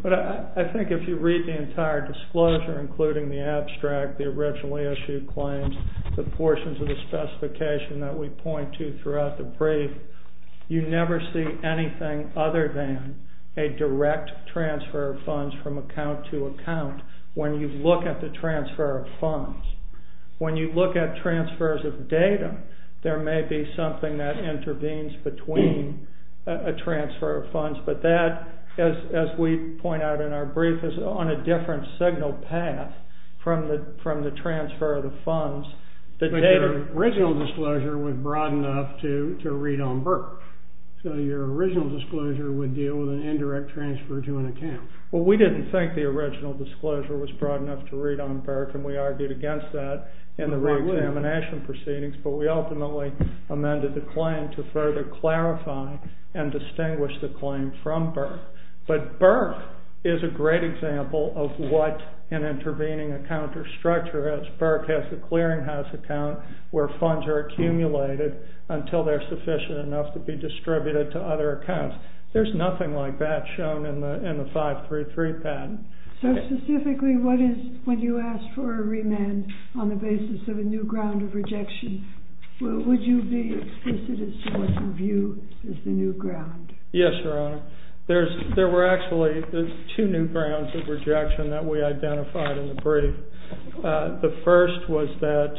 But I think if you read the entire disclosure, including the abstract, the originally issued claims, the portions of the specification that we point to throughout the brief, you never see anything other than a direct transfer of funds from account to account when you look at the transfer of funds. When you look at transfers of data, there may be something that intervenes between a transfer of funds. But that, as we point out in our brief, is on a different signal path from the transfer of the funds. But your original disclosure was broad enough to read on Berk. So your original disclosure would deal with an indirect transfer to an account. Well, we didn't think the original disclosure was broad enough to read on Berk, and we argued against that in the reexamination proceedings. But we ultimately amended the claim to further clarify and distinguish the claim from Berk. But Berk is a great example of what an intervening account or structure is. Berk has a clearinghouse account where funds are accumulated until they're sufficient enough to be distributed to other accounts. There's nothing like that shown in the 533 patent. So specifically, what is it when you ask for a remand on the basis of a new ground of rejection? Would you be explicit in someone's view as the new ground? Yes, Your Honor. There were actually two new grounds of rejection that we identified in the brief. The first was that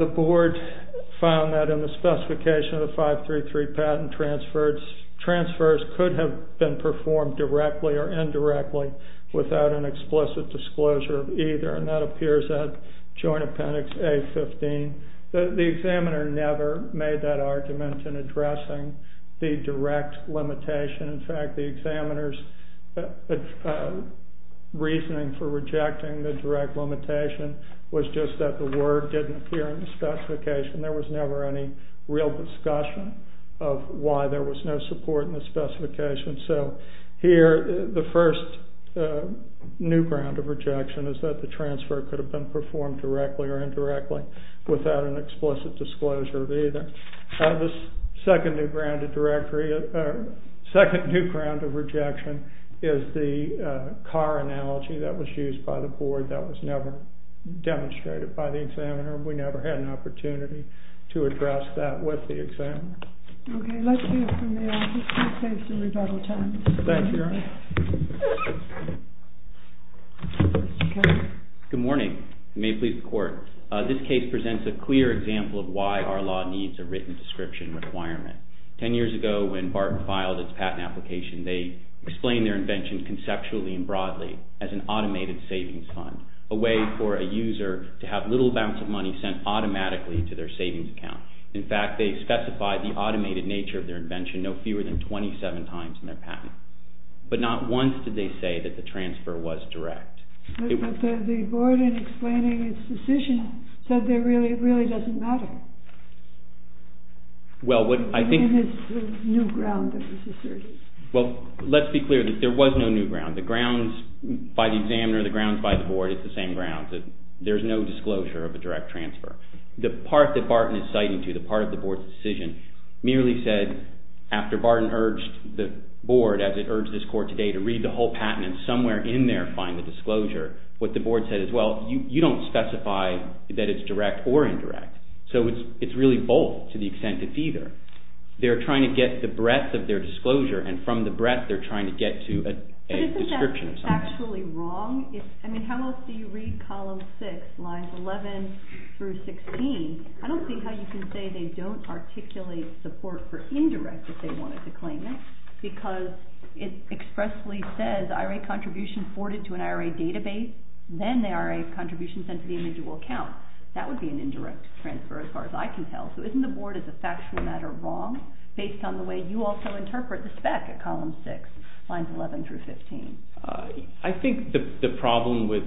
the board found that in the specification of the 533 patent, transfers could have been performed directly or indirectly without an explicit disclosure of either. And that appears at Joint Appendix A-15. The examiner never made that argument in addressing the direct limitation. In fact, the examiner's reasoning for rejecting the direct limitation was just that the word didn't appear in the specification. There was never any real discussion of why there was no support in the specification. So here, the first new ground of rejection is that the transfer could have been performed directly or indirectly without an explicit disclosure of either. The second new ground of rejection is the car analogy that was used by the board. That was never demonstrated by the examiner. We never had an opportunity to address that with the examiner. Okay, let's move from there. I'll just keep things in rebuttal time. Thank you, Your Honor. Good morning. May it please the Court. This case presents a clear example of why our law needs a written description requirement. Ten years ago, when BART filed its patent application, they explained their invention conceptually and broadly as an automated savings fund, a way for a user to have little amounts of money sent automatically to their savings account. In fact, they specified the automated nature of their invention no fewer than 27 times in their patent. But not once did they say that the transfer was direct. But the board, in explaining its decision, said it really doesn't matter. Well, what I think... It's the new ground that was asserted. Well, let's be clear. There was no new ground. The grounds by the examiner, the grounds by the board, it's the same grounds. There's no disclosure of a direct transfer. The part that BART is citing to, the part of the board's decision, merely said, after BART urged the board, as it urged this Court today, to read the whole patent and somewhere in there find the disclosure, what the board said is, well, you don't specify that it's direct or indirect. So it's really both to the extent it's either. They're trying to get the breadth of their disclosure, and from the breadth they're trying to get to a description. But isn't that factually wrong? I mean, how else do you read column 6, lines 11 through 16? I don't see how you can say they don't articulate support for indirect, if they wanted to claim it, because it expressly says, IRA contribution forwarded to an IRA database, then the IRA contribution sent to the individual account. That would be an indirect transfer, as far as I can tell. So isn't the board, as a factually matter, wrong, based on the way you also interpret the spec at column 6, lines 11 through 15? I think the problem with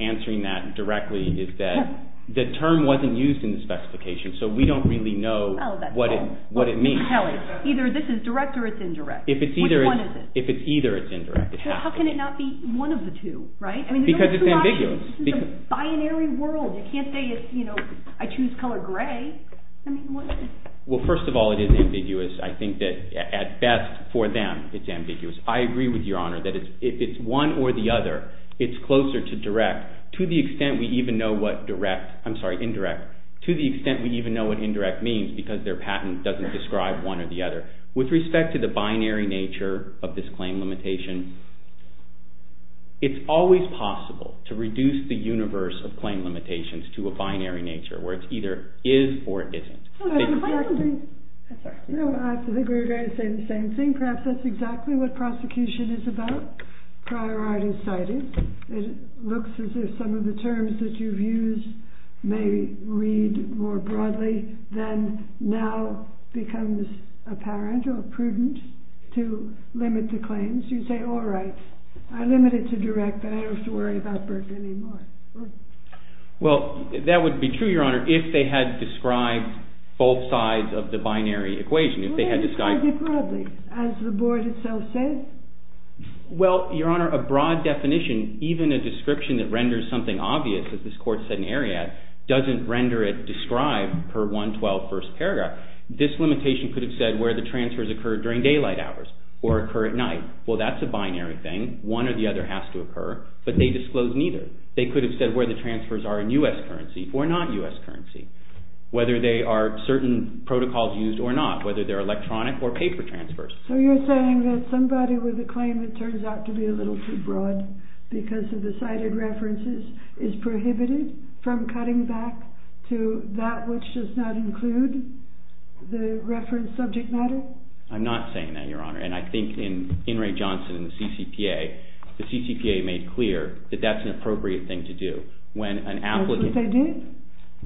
answering that directly is that the term wasn't used in the specification, so we don't really know what it means. Either this is direct or it's indirect. If it's either, it's indirect. How can it not be one of the two, right? Because it's ambiguous. It's a binary world. You can't say, you know, I choose color gray. Well, first of all, it is ambiguous. I think that, at best, for them, it's ambiguous. I agree with Your Honor that it's one or the other. It's closer to direct, to the extent we even know what direct, I'm sorry, indirect, to the extent we even know what indirect means, because their patent doesn't describe one or the other. With respect to the binary nature of this claim limitation, it's always possible to reduce the universe of claim limitations to a binary nature, where it's either is or isn't. I agree with you. I would say the same thing. Perhaps that's exactly what prosecution is about. Priorities cited. It looks as if some of the terms that you've used may read more broadly than now becomes apparent or prudent to limit the claims. You say, all right, I limit it to direct, but I don't have to worry about Berkeley anymore. Well, that would be true, Your Honor, if they had described both sides of the binary equation, if they had described- How broadly? As the board itself says? Well, Your Honor, a broad definition, even a description that renders something obvious, as this court said in Ariadne, doesn't render it described per 112 First Paragraph. This limitation could have said where the transfers occurred during daylight hours or occur at night. Well, that's a binary thing. One or the other has to occur, but they disclose neither. They could have said where the transfers are in U.S. currency or not U.S. currency, whether they are certain protocols used or not, whether they're electronic or paper transfers. So you're saying that somebody with a claim that turns out to be a little too broad because of the cited references is prohibited from cutting back to that which does not include the reference subject matter? I'm not saying that, Your Honor. And I think in In re Johnson in the CCPA, the CCPA made clear that that's an appropriate thing to do. When an applicant- That's what they did?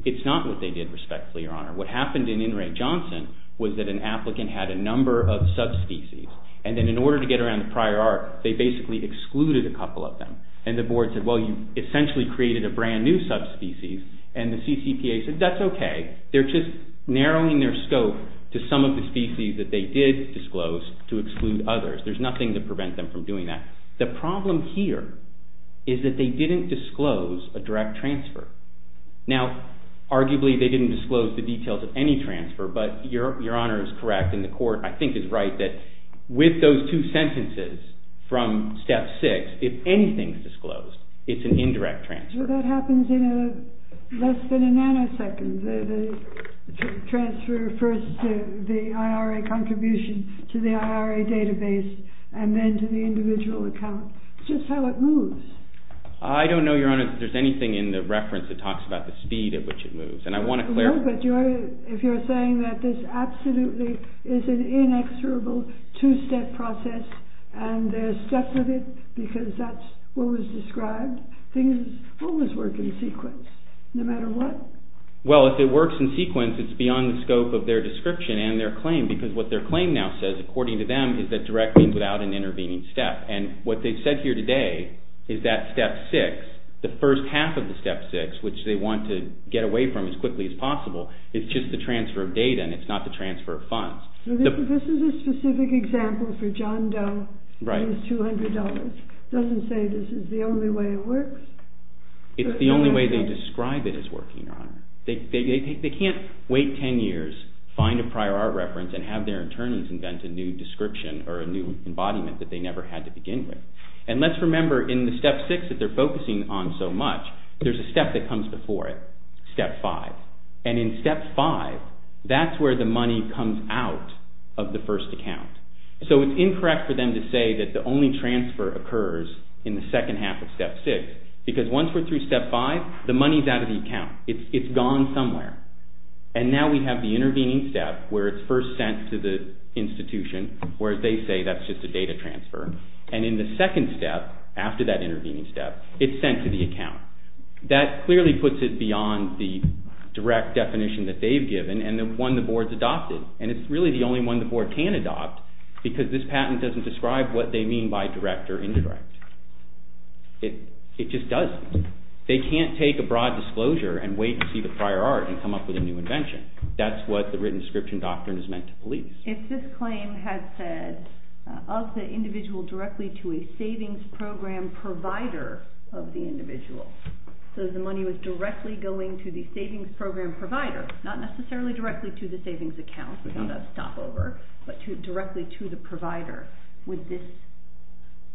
It's not what they did, respectfully, Your Honor. What happened in In re Johnson was that an applicant had a number of subspecies. And then in order to get around the prior arc, they basically excluded a couple of them. And the board said, well, you essentially created a brand new subspecies. And the CCPA said, that's okay. They're just narrowing their scope to some of the species that they did disclose to exclude others. There's nothing to prevent them from doing that. The problem here is that they didn't disclose a direct transfer. Now, arguably, they didn't disclose the details of any transfer, but Your Honor is correct. And the court, I think, is right that with those two sentences from Step 6, if anything is disclosed, it's an indirect transfer. Well, that happens in less than a nanosecond. The transfer refers to the IRA contribution to the IRA database and then to the individual account. It's just how it moves. I don't know, Your Honor, if there's anything in the reference that talks about the speed at which it moves. And I want to clarify- No, but if you're saying that this absolutely is an inexorable two-step process and they're stuck with it because that's what was described, things always work in sequence no matter what. Well, if it works in sequence, it's beyond the scope of their description and their claim because what their claim now says, according to them, is that direct means without an intervening step. And what they've said here today is that Step 6, the first half of the Step 6, which they want to get away from as quickly as possible, is just the transfer of data and it's not the transfer of funds. This is a specific example for John Doe and his $200. It doesn't say this is the only way it works. It's the only way they describe it as working, Your Honor. They can't wait 10 years, find a prior art reference, and have their attorneys invent a new description or a new embodiment that they never had to begin with. And let's remember in the Step 6 that they're focusing on so much, there's a step that comes before it, Step 5. And in Step 5, that's where the money comes out of the first account. So it's incorrect for them to say that the only transfer occurs in the second half of Step 6 because once we're through Step 5, the money's out of the account. It's gone somewhere. And now we have the intervening step where it's first sent to the institution where they say that's just a data transfer. And in the second step, after that intervening step, it's sent to the account. That clearly puts it beyond the direct definition that they've given and the one the board's adopted. And it's really the only one the board can adopt because this patent doesn't describe what they mean by direct or indirect. It just doesn't. They can't take a broad disclosure and wait to see the prior art and come up with a new invention. That's what the written description doctrine is meant to believe. If this claim has said of the individual directly to a savings program provider of the individual, so the money was directly going to the savings program provider, not necessarily directly to the savings account, which is a stopover, but directly to the provider, would this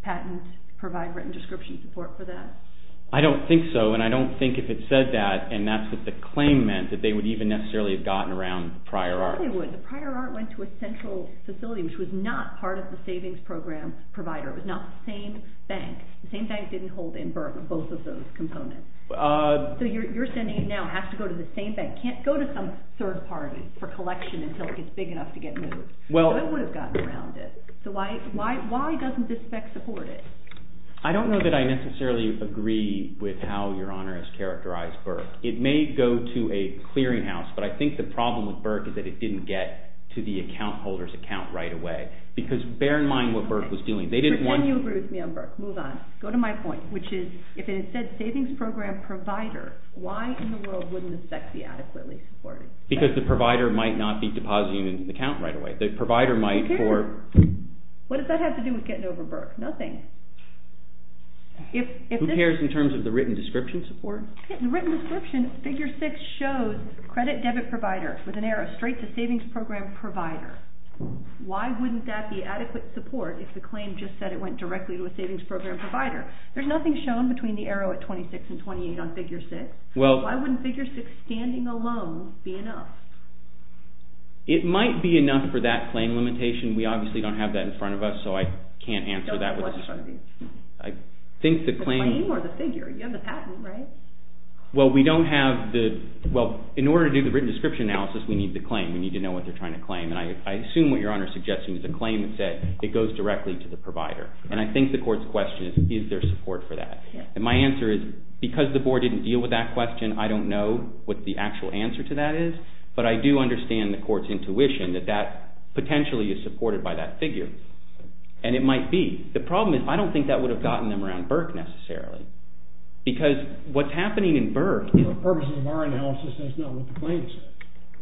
patent provide written description support for that? I don't think so, and I don't think if it said that, and that's what the claim meant, that they would even necessarily have gotten around prior art. They probably would. The prior art went to a central facility, which was not part of the savings program provider. It was not the same bank. The same bank didn't hold both of those components. So you're saying it now has to go to the same bank. It can't go to some third party for collection until it's big enough to get moved. It would have gotten around it. So why doesn't this bank support it? I don't know that I necessarily agree with how Your Honor has characterized Burke. It may go to a clearinghouse, but I think the problem with Burke is that it didn't get to the account holder's account right away because bear in mind what Burke was doing. Then you agree with me on Burke. Move on. Go to my point, which is if it said savings program provider, why in the world wouldn't this bank be adequately supported? Because the provider might not be depositing into the account right away. The provider might for... What does that have to do with getting over Burke? Nothing. Who cares in terms of the written description support? The written description, figure 6, shows credit debit provider with an arrow straight to savings program provider. Why wouldn't that be adequate support if the claim just said it went directly to a savings program provider? There's nothing shown between the arrow at 26 and 28 on figure 6. Why wouldn't figure 6 standing alone be enough? It might be enough for that claim limitation. We obviously don't have that in front of us, so I can't answer that. I think the claim... The claim or the figure. You have the patent, right? Well, we don't have the... In order to do the written description analysis, we need the claim. We need to know what they're trying to claim. I assume what Your Honor is suggesting is the claim said it goes directly to the provider. And I think the court's question is, is there support for that? And my answer is, because the board didn't deal with that question, I don't know what the actual answer to that is. But I do understand the court's intuition that that potentially is supported by that figure. And it might be. The problem is, I don't think that would have gotten them around Burke necessarily. Because what's happening in Burke... For purposes of our analysis, that's not what the claim says.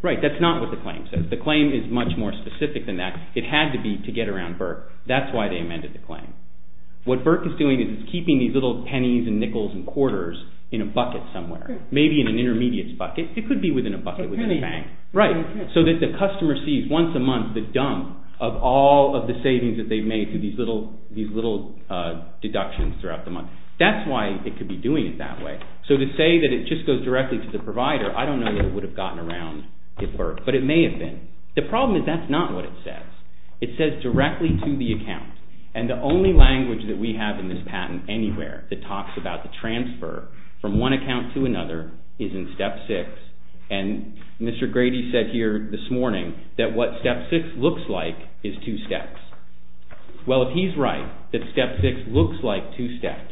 Right, that's not what the claim says. The claim is much more specific than that. It had to be to get around Burke. That's why they amended the claim. What Burke is doing is keeping these little pennies and nickels and quarters in a bucket somewhere. Maybe in an intermediate bucket. It could be within a bucket with a bank. Right, so that the customer sees once a month the dump of all of the savings that they've made through these little deductions throughout the month. That's why it could be doing it that way. So to say that it just goes directly to the provider, I don't know that it would have gotten around Burke. But it may have been. The problem is that's not what it says. It says directly to the account. And the only language that we have in this patent anywhere that talks about the transfer from one account to another is in step six. And Mr. Grady said here this morning that what step six looks like is two steps. Well, if he's right, that step six looks like two steps,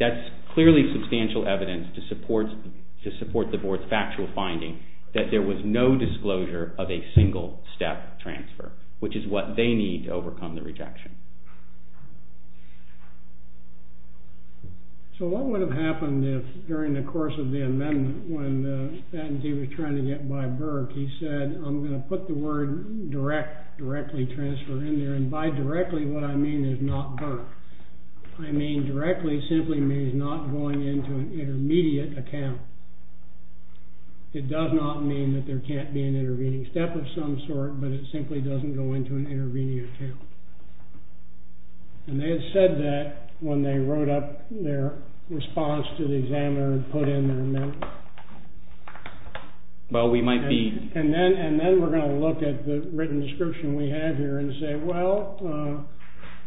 that's clearly substantial evidence to support the board's factual finding that there was no disclosure of a single step transfer, which is what they need to overcome the rejection. So what would have happened if during the course of the amendment when the patentee was trying to get by Burke, he said I'm going to put the word direct, directly transfer in there. And by directly what I mean is not Burke. I mean directly simply means not going into an intermediate account. It does not mean that there can't be an intervening step of some sort, but it simply doesn't go into an intervening account. And they had said that when they wrote up their response to the examiner and put in their amendment. Well, we might be. And then we're going to look at the written description we have here and say, well,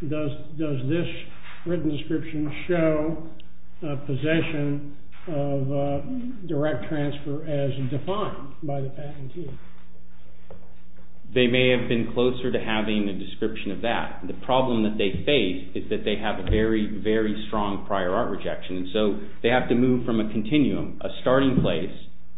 does this written description show a possession of direct transfer as defined by the patentee? They may have been closer to having a description of that. The problem that they face is that they have a very, very strong prior art rejection. So they have to move from a continuum, a starting place,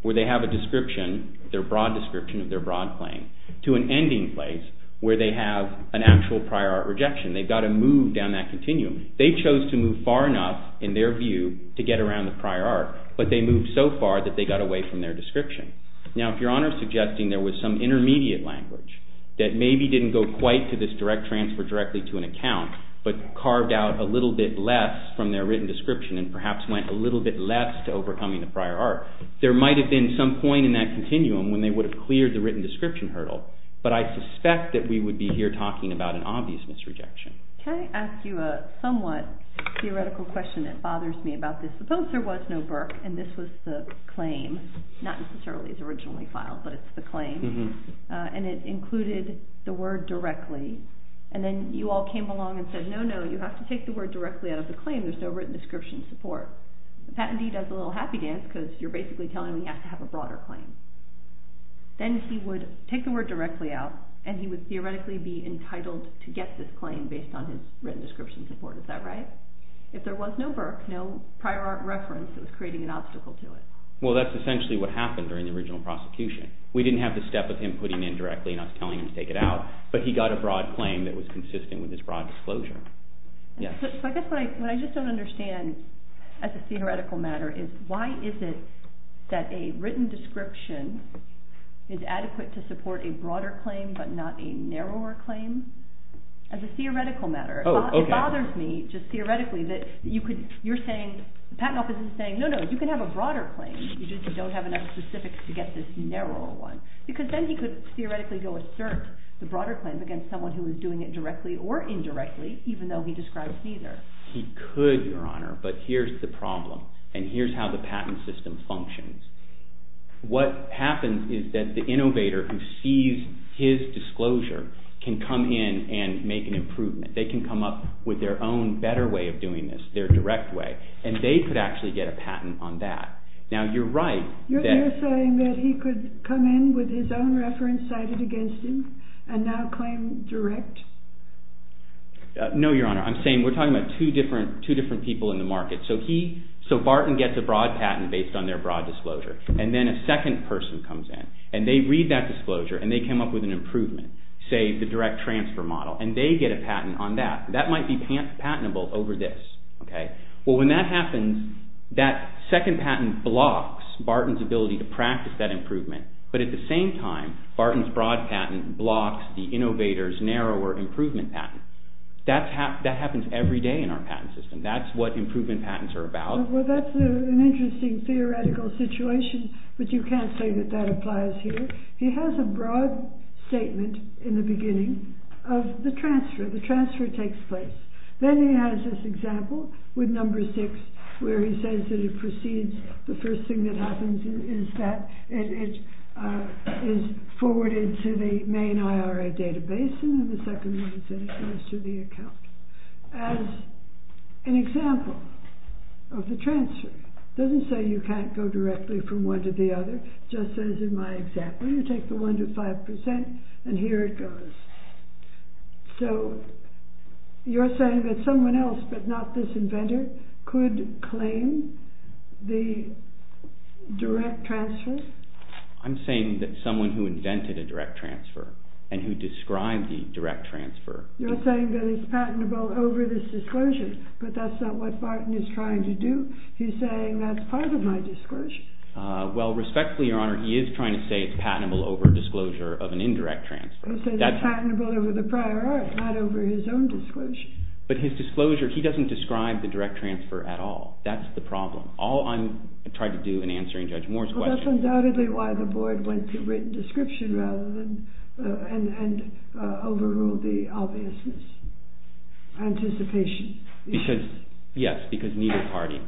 where they have a description, their broad description of their broad claim, to an ending place where they have an actual prior art rejection. They've got to move down that continuum. They chose to move far enough, in their view, to get around the prior art, but they moved so far that they got away from their description. Now, if your Honor is suggesting there was some intermediate language that maybe didn't go quite to this direct transfer directly to an account, but carved out a little bit less from their written description and perhaps went a little bit less to overcoming the prior art, there might have been some point in that continuum when they would have cleared the written description hurdle. But I suspect that we would be here talking about an obvious misrejection. Can I ask you a somewhat theoretical question that bothers me about this? Suppose there was no Burke and this was the claim. Not necessarily the original file, but it's the claim. And it included the word directly. And then you all came along and said, no, no, you have to take the word directly out of the claim. There's no written description support. Patentee does a little happy dance because you're basically telling him he has to have a broader claim. Then he would take the word directly out and he would theoretically be entitled to get this claim based on his written description support. Is that right? If there was no Burke, no prior art reference, it was creating an obstacle to it. Well, that's essentially what happened during the original prosecution. We didn't have to step with him putting it in directly and us telling him to take it out, but he got a broad claim that was consistent with his broad disclosure. So I guess what I just don't understand as a theoretical matter is why is it that a written description is adequate to support a broader claim, but not a narrower claim? As a theoretical matter. It bothers me, just theoretically, that you're saying, the patent office is saying, no, no, you can have a broader claim. You just don't have enough specifics to get this narrower one. Because then he could theoretically go assert the broader claim against someone who is doing it directly or indirectly, even though he describes neither. He could, Your Honor, but here's the problem. And here's how the patent system functions. What happens is that the innovator who sees his disclosure can come in and make an improvement. They can come up with their own better way of doing this, their direct way. And they could actually get a patent on that. Now, you're right that... You're saying that he could come in with his own reference cited against him and now claim direct? No, Your Honor. I'm saying we're talking about two different people in the market. So he... So Barton gets a broad patent based on their broad disclosure. And then a second person comes in, and they read that disclosure, and they come up with an improvement, say, the direct transfer model. And they get a patent on that. That might be patentable over this, okay? Well, when that happens, that second patent blocks Barton's ability to practice that improvement. But at the same time, Barton's broad patent blocks the innovator's narrower improvement patent. That happens every day in our patent system. That's what improvement patents are about. Well, that's an interesting theoretical situation, but you can't say that that applies here. He has a broad statement in the beginning of the transfer. The transfer takes place. Then he has this example with number six where he says that it proceeds... The first thing that happens is that it is forwarded to the main IRA database, and then the second thing is that it goes to the account. As an example of the transfer, it doesn't say you can't go directly from one to the other, just as in my example. You take the one to five percent, and here it goes. So you're saying that someone else but not this inventor could claim the direct transfer? I'm saying that someone who invented a direct transfer and who described the direct transfer... You're saying that it's patentable over this disclosure, but that's not what Barton is trying to do. He's saying that's part of my disclosure. Well, respectfully, Your Honor, he is trying to say it's patentable over disclosure of an indirect transfer. He says it's patentable over the prior art, not over his own disclosure. But his disclosure, he doesn't describe the direct transfer at all. That's the problem. All I'm trying to do in answering Judge Moore's question... Well, that's undoubtedly why the board went to written description and overruled the obviousness. Anticipation. Yes, because neither party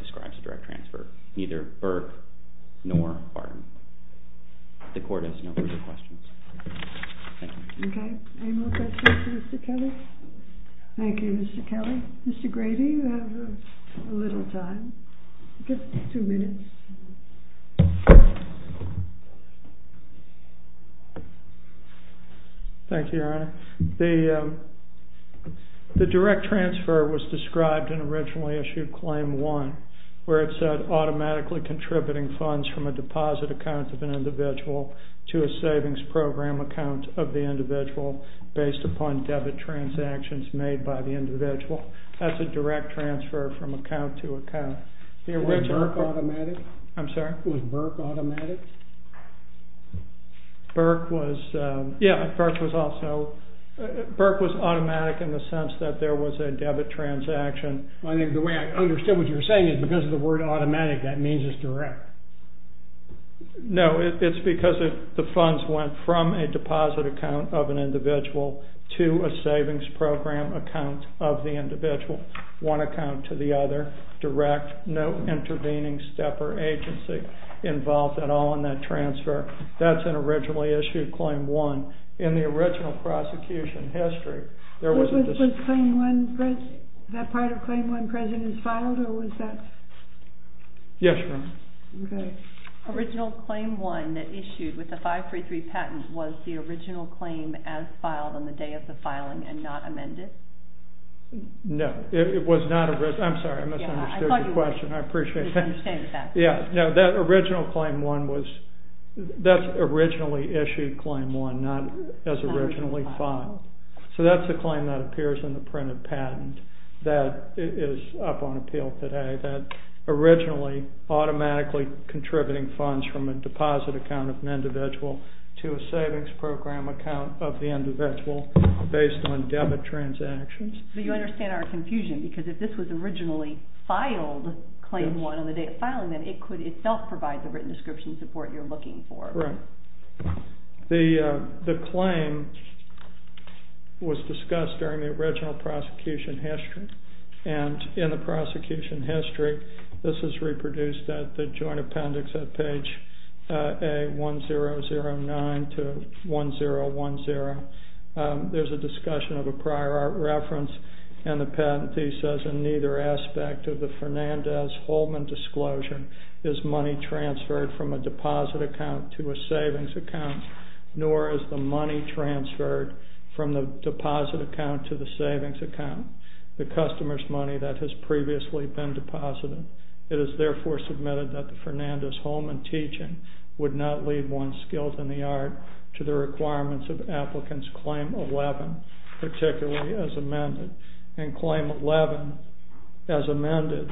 describes direct transfer. Neither Burke nor Barton. The court has no further questions. Okay, any more questions for Mr. Kelly? Thank you, Mr. Kelly. Mr. Grady, you have a little time. Just two minutes. Thank you, Your Honor. The direct transfer was described and originally issued Claim 1, where it said automatically contributing funds from a deposit account of an individual to a savings program account of the individual based upon debit transactions made by the individual. That's a direct transfer from account to account. Was Burke automatic? I'm sorry? Was Burke automatic? Burke was... Yeah, Burke was also... Burke was automatic in the sense that there was a debit transaction. I think the way I understood what you were saying is because of the word automatic, that means it's direct. No, it's because the funds went from a deposit account of an individual to a savings program account of the individual. One account to the other, direct, no intervening step or agency involved at all in that transfer. That's an originally issued Claim 1. In the original prosecution history, there was a... Was that part of Claim 1 present and filed, or was that... Yes, Your Honor. Okay. Original Claim 1 that issued with the 533 patent was the original claim as filed on the day of the filing and not amended? No, it was not... I'm sorry, I misunderstood your question. I appreciate that. I understand that. Yeah, no, that original Claim 1 was... That's originally issued Claim 1, not as originally filed. So that's a claim that appears in the printed patent that is up on appeal today, that originally automatically contributing funds from a deposit account of an individual to a savings program account of the individual based on debit transactions. You understand our confusion, because if this was originally filed, Claim 1 on the day of filing, then it could itself provide the written description support you're looking for. Right. The claim was discussed during the original prosecution history. And in the prosecution history, this is reproduced at the joint appendix at page A1009 to 1010. There's a discussion of a prior art reference, and the patentee says, in neither aspect of the Fernandez-Holman disclosure is money transferred from a deposit account to a savings account, nor is the money transferred from the deposit account to the savings account. The customer's money that has previously been deposited. It is therefore submitted that the Fernandez-Holman teaching would not leave one's skills in the art to the requirements of Applicant's Claim 11, particularly as amended. And Claim 11, as amended,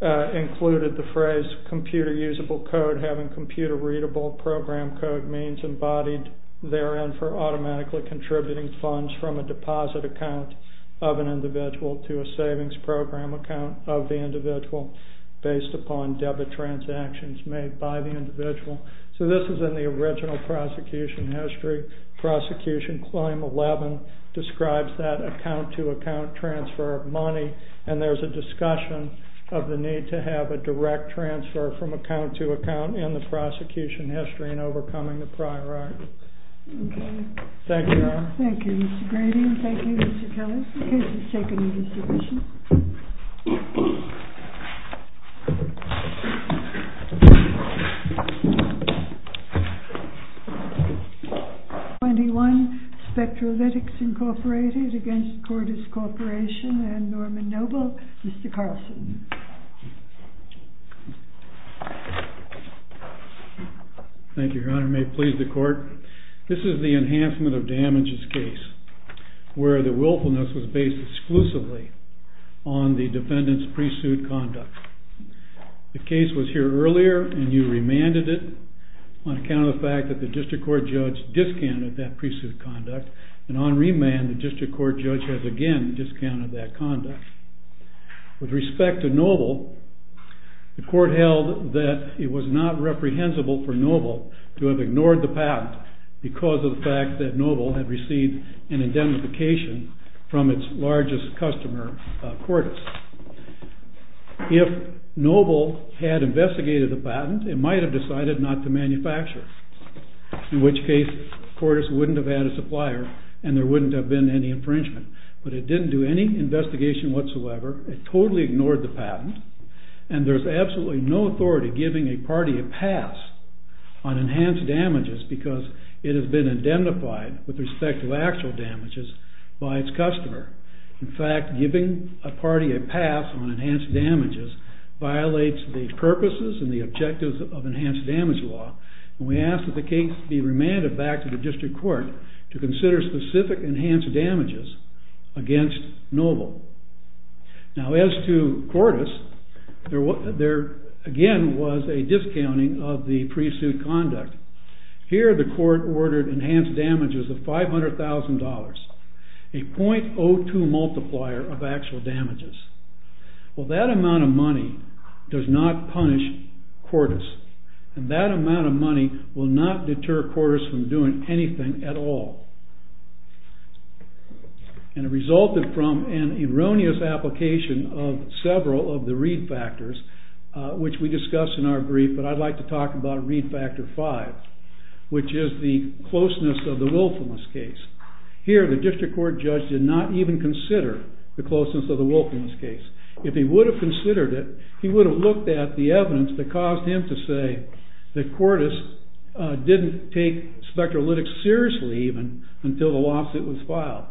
included the phrase, computer-usable code having computer-readable program code means embodied therein for automatically contributing funds from a deposit account of an individual to a savings program account of the individual based upon debit transactions made by the individual. So this is in the original prosecution history. Prosecution Claim 11 describes that account-to-account transfer of money, and there's a discussion of the need to have a direct transfer from account-to-account in the prosecution history in overcoming the prior art. Okay. Thank you. Thank you, Mr. Grady. Thank you, Mr. Phillips. The case is taken into submission. 21, Spectrolytics Incorporated against Cordis Corporation and Norman Noble. Mr. Carlson. Thank you, Your Honor. May it please the Court. This is the Enhancement of Damages case on the fact that the defendant did not have the ability on the defendant's pre-suit conduct. The case was here earlier, and you remanded it on account of the fact that the district court judge discounted that pre-suit conduct, and on remand, the district court judge has again discounted that conduct. With respect to Noble, the Court held that it was not reprehensible for Noble to have ignored the patent because of the fact that Noble had received an indemnification from its largest customer, Cordis. If Noble had investigated the patent, it might have decided not to manufacture it, in which case, Cordis wouldn't have had a supplier, and there wouldn't have been any infringement. But it didn't do any investigation whatsoever. It totally ignored the patent, and there's absolutely no authority giving a party a pass on enhanced damages because it has been identified with respect to actual damages by its customer. In fact, giving a party a pass on enhanced damages violates the purposes and the objectives of enhanced damage law, and we ask that the case be remanded back to the district court to consider specific enhanced damages against Noble. Now, as to Cordis, there, again, was a discounting of the pre-suit conduct. Here, the court ordered enhanced damages of $500,000, a .02 multiplier of actual damages. Well, that amount of money does not punish Cordis, and that amount of money will not deter Cordis from doing anything at all. And it resulted from an erroneous application of several of the read factors, which we discussed in our brief, but I'd like to talk about read factor five, which is the closeness of the willfulness case. Here, the district court judge did not even consider the closeness of the willfulness case. If he would have considered it, he would have looked at the evidence that caused him to say that Cordis didn't take spectrolytics seriously, even, until the lawsuit was filed.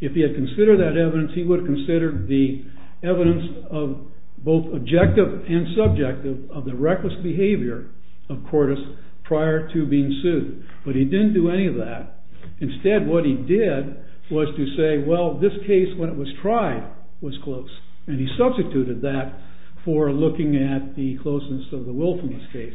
If he had considered that evidence, he would have considered the evidence of both objective and subjective of the reckless behavior of Cordis prior to being sued, but he didn't do any of that. Instead, what he did was to say, well, this case, when it was tried, was close, and he substituted that for looking at the closeness of the willfulness case.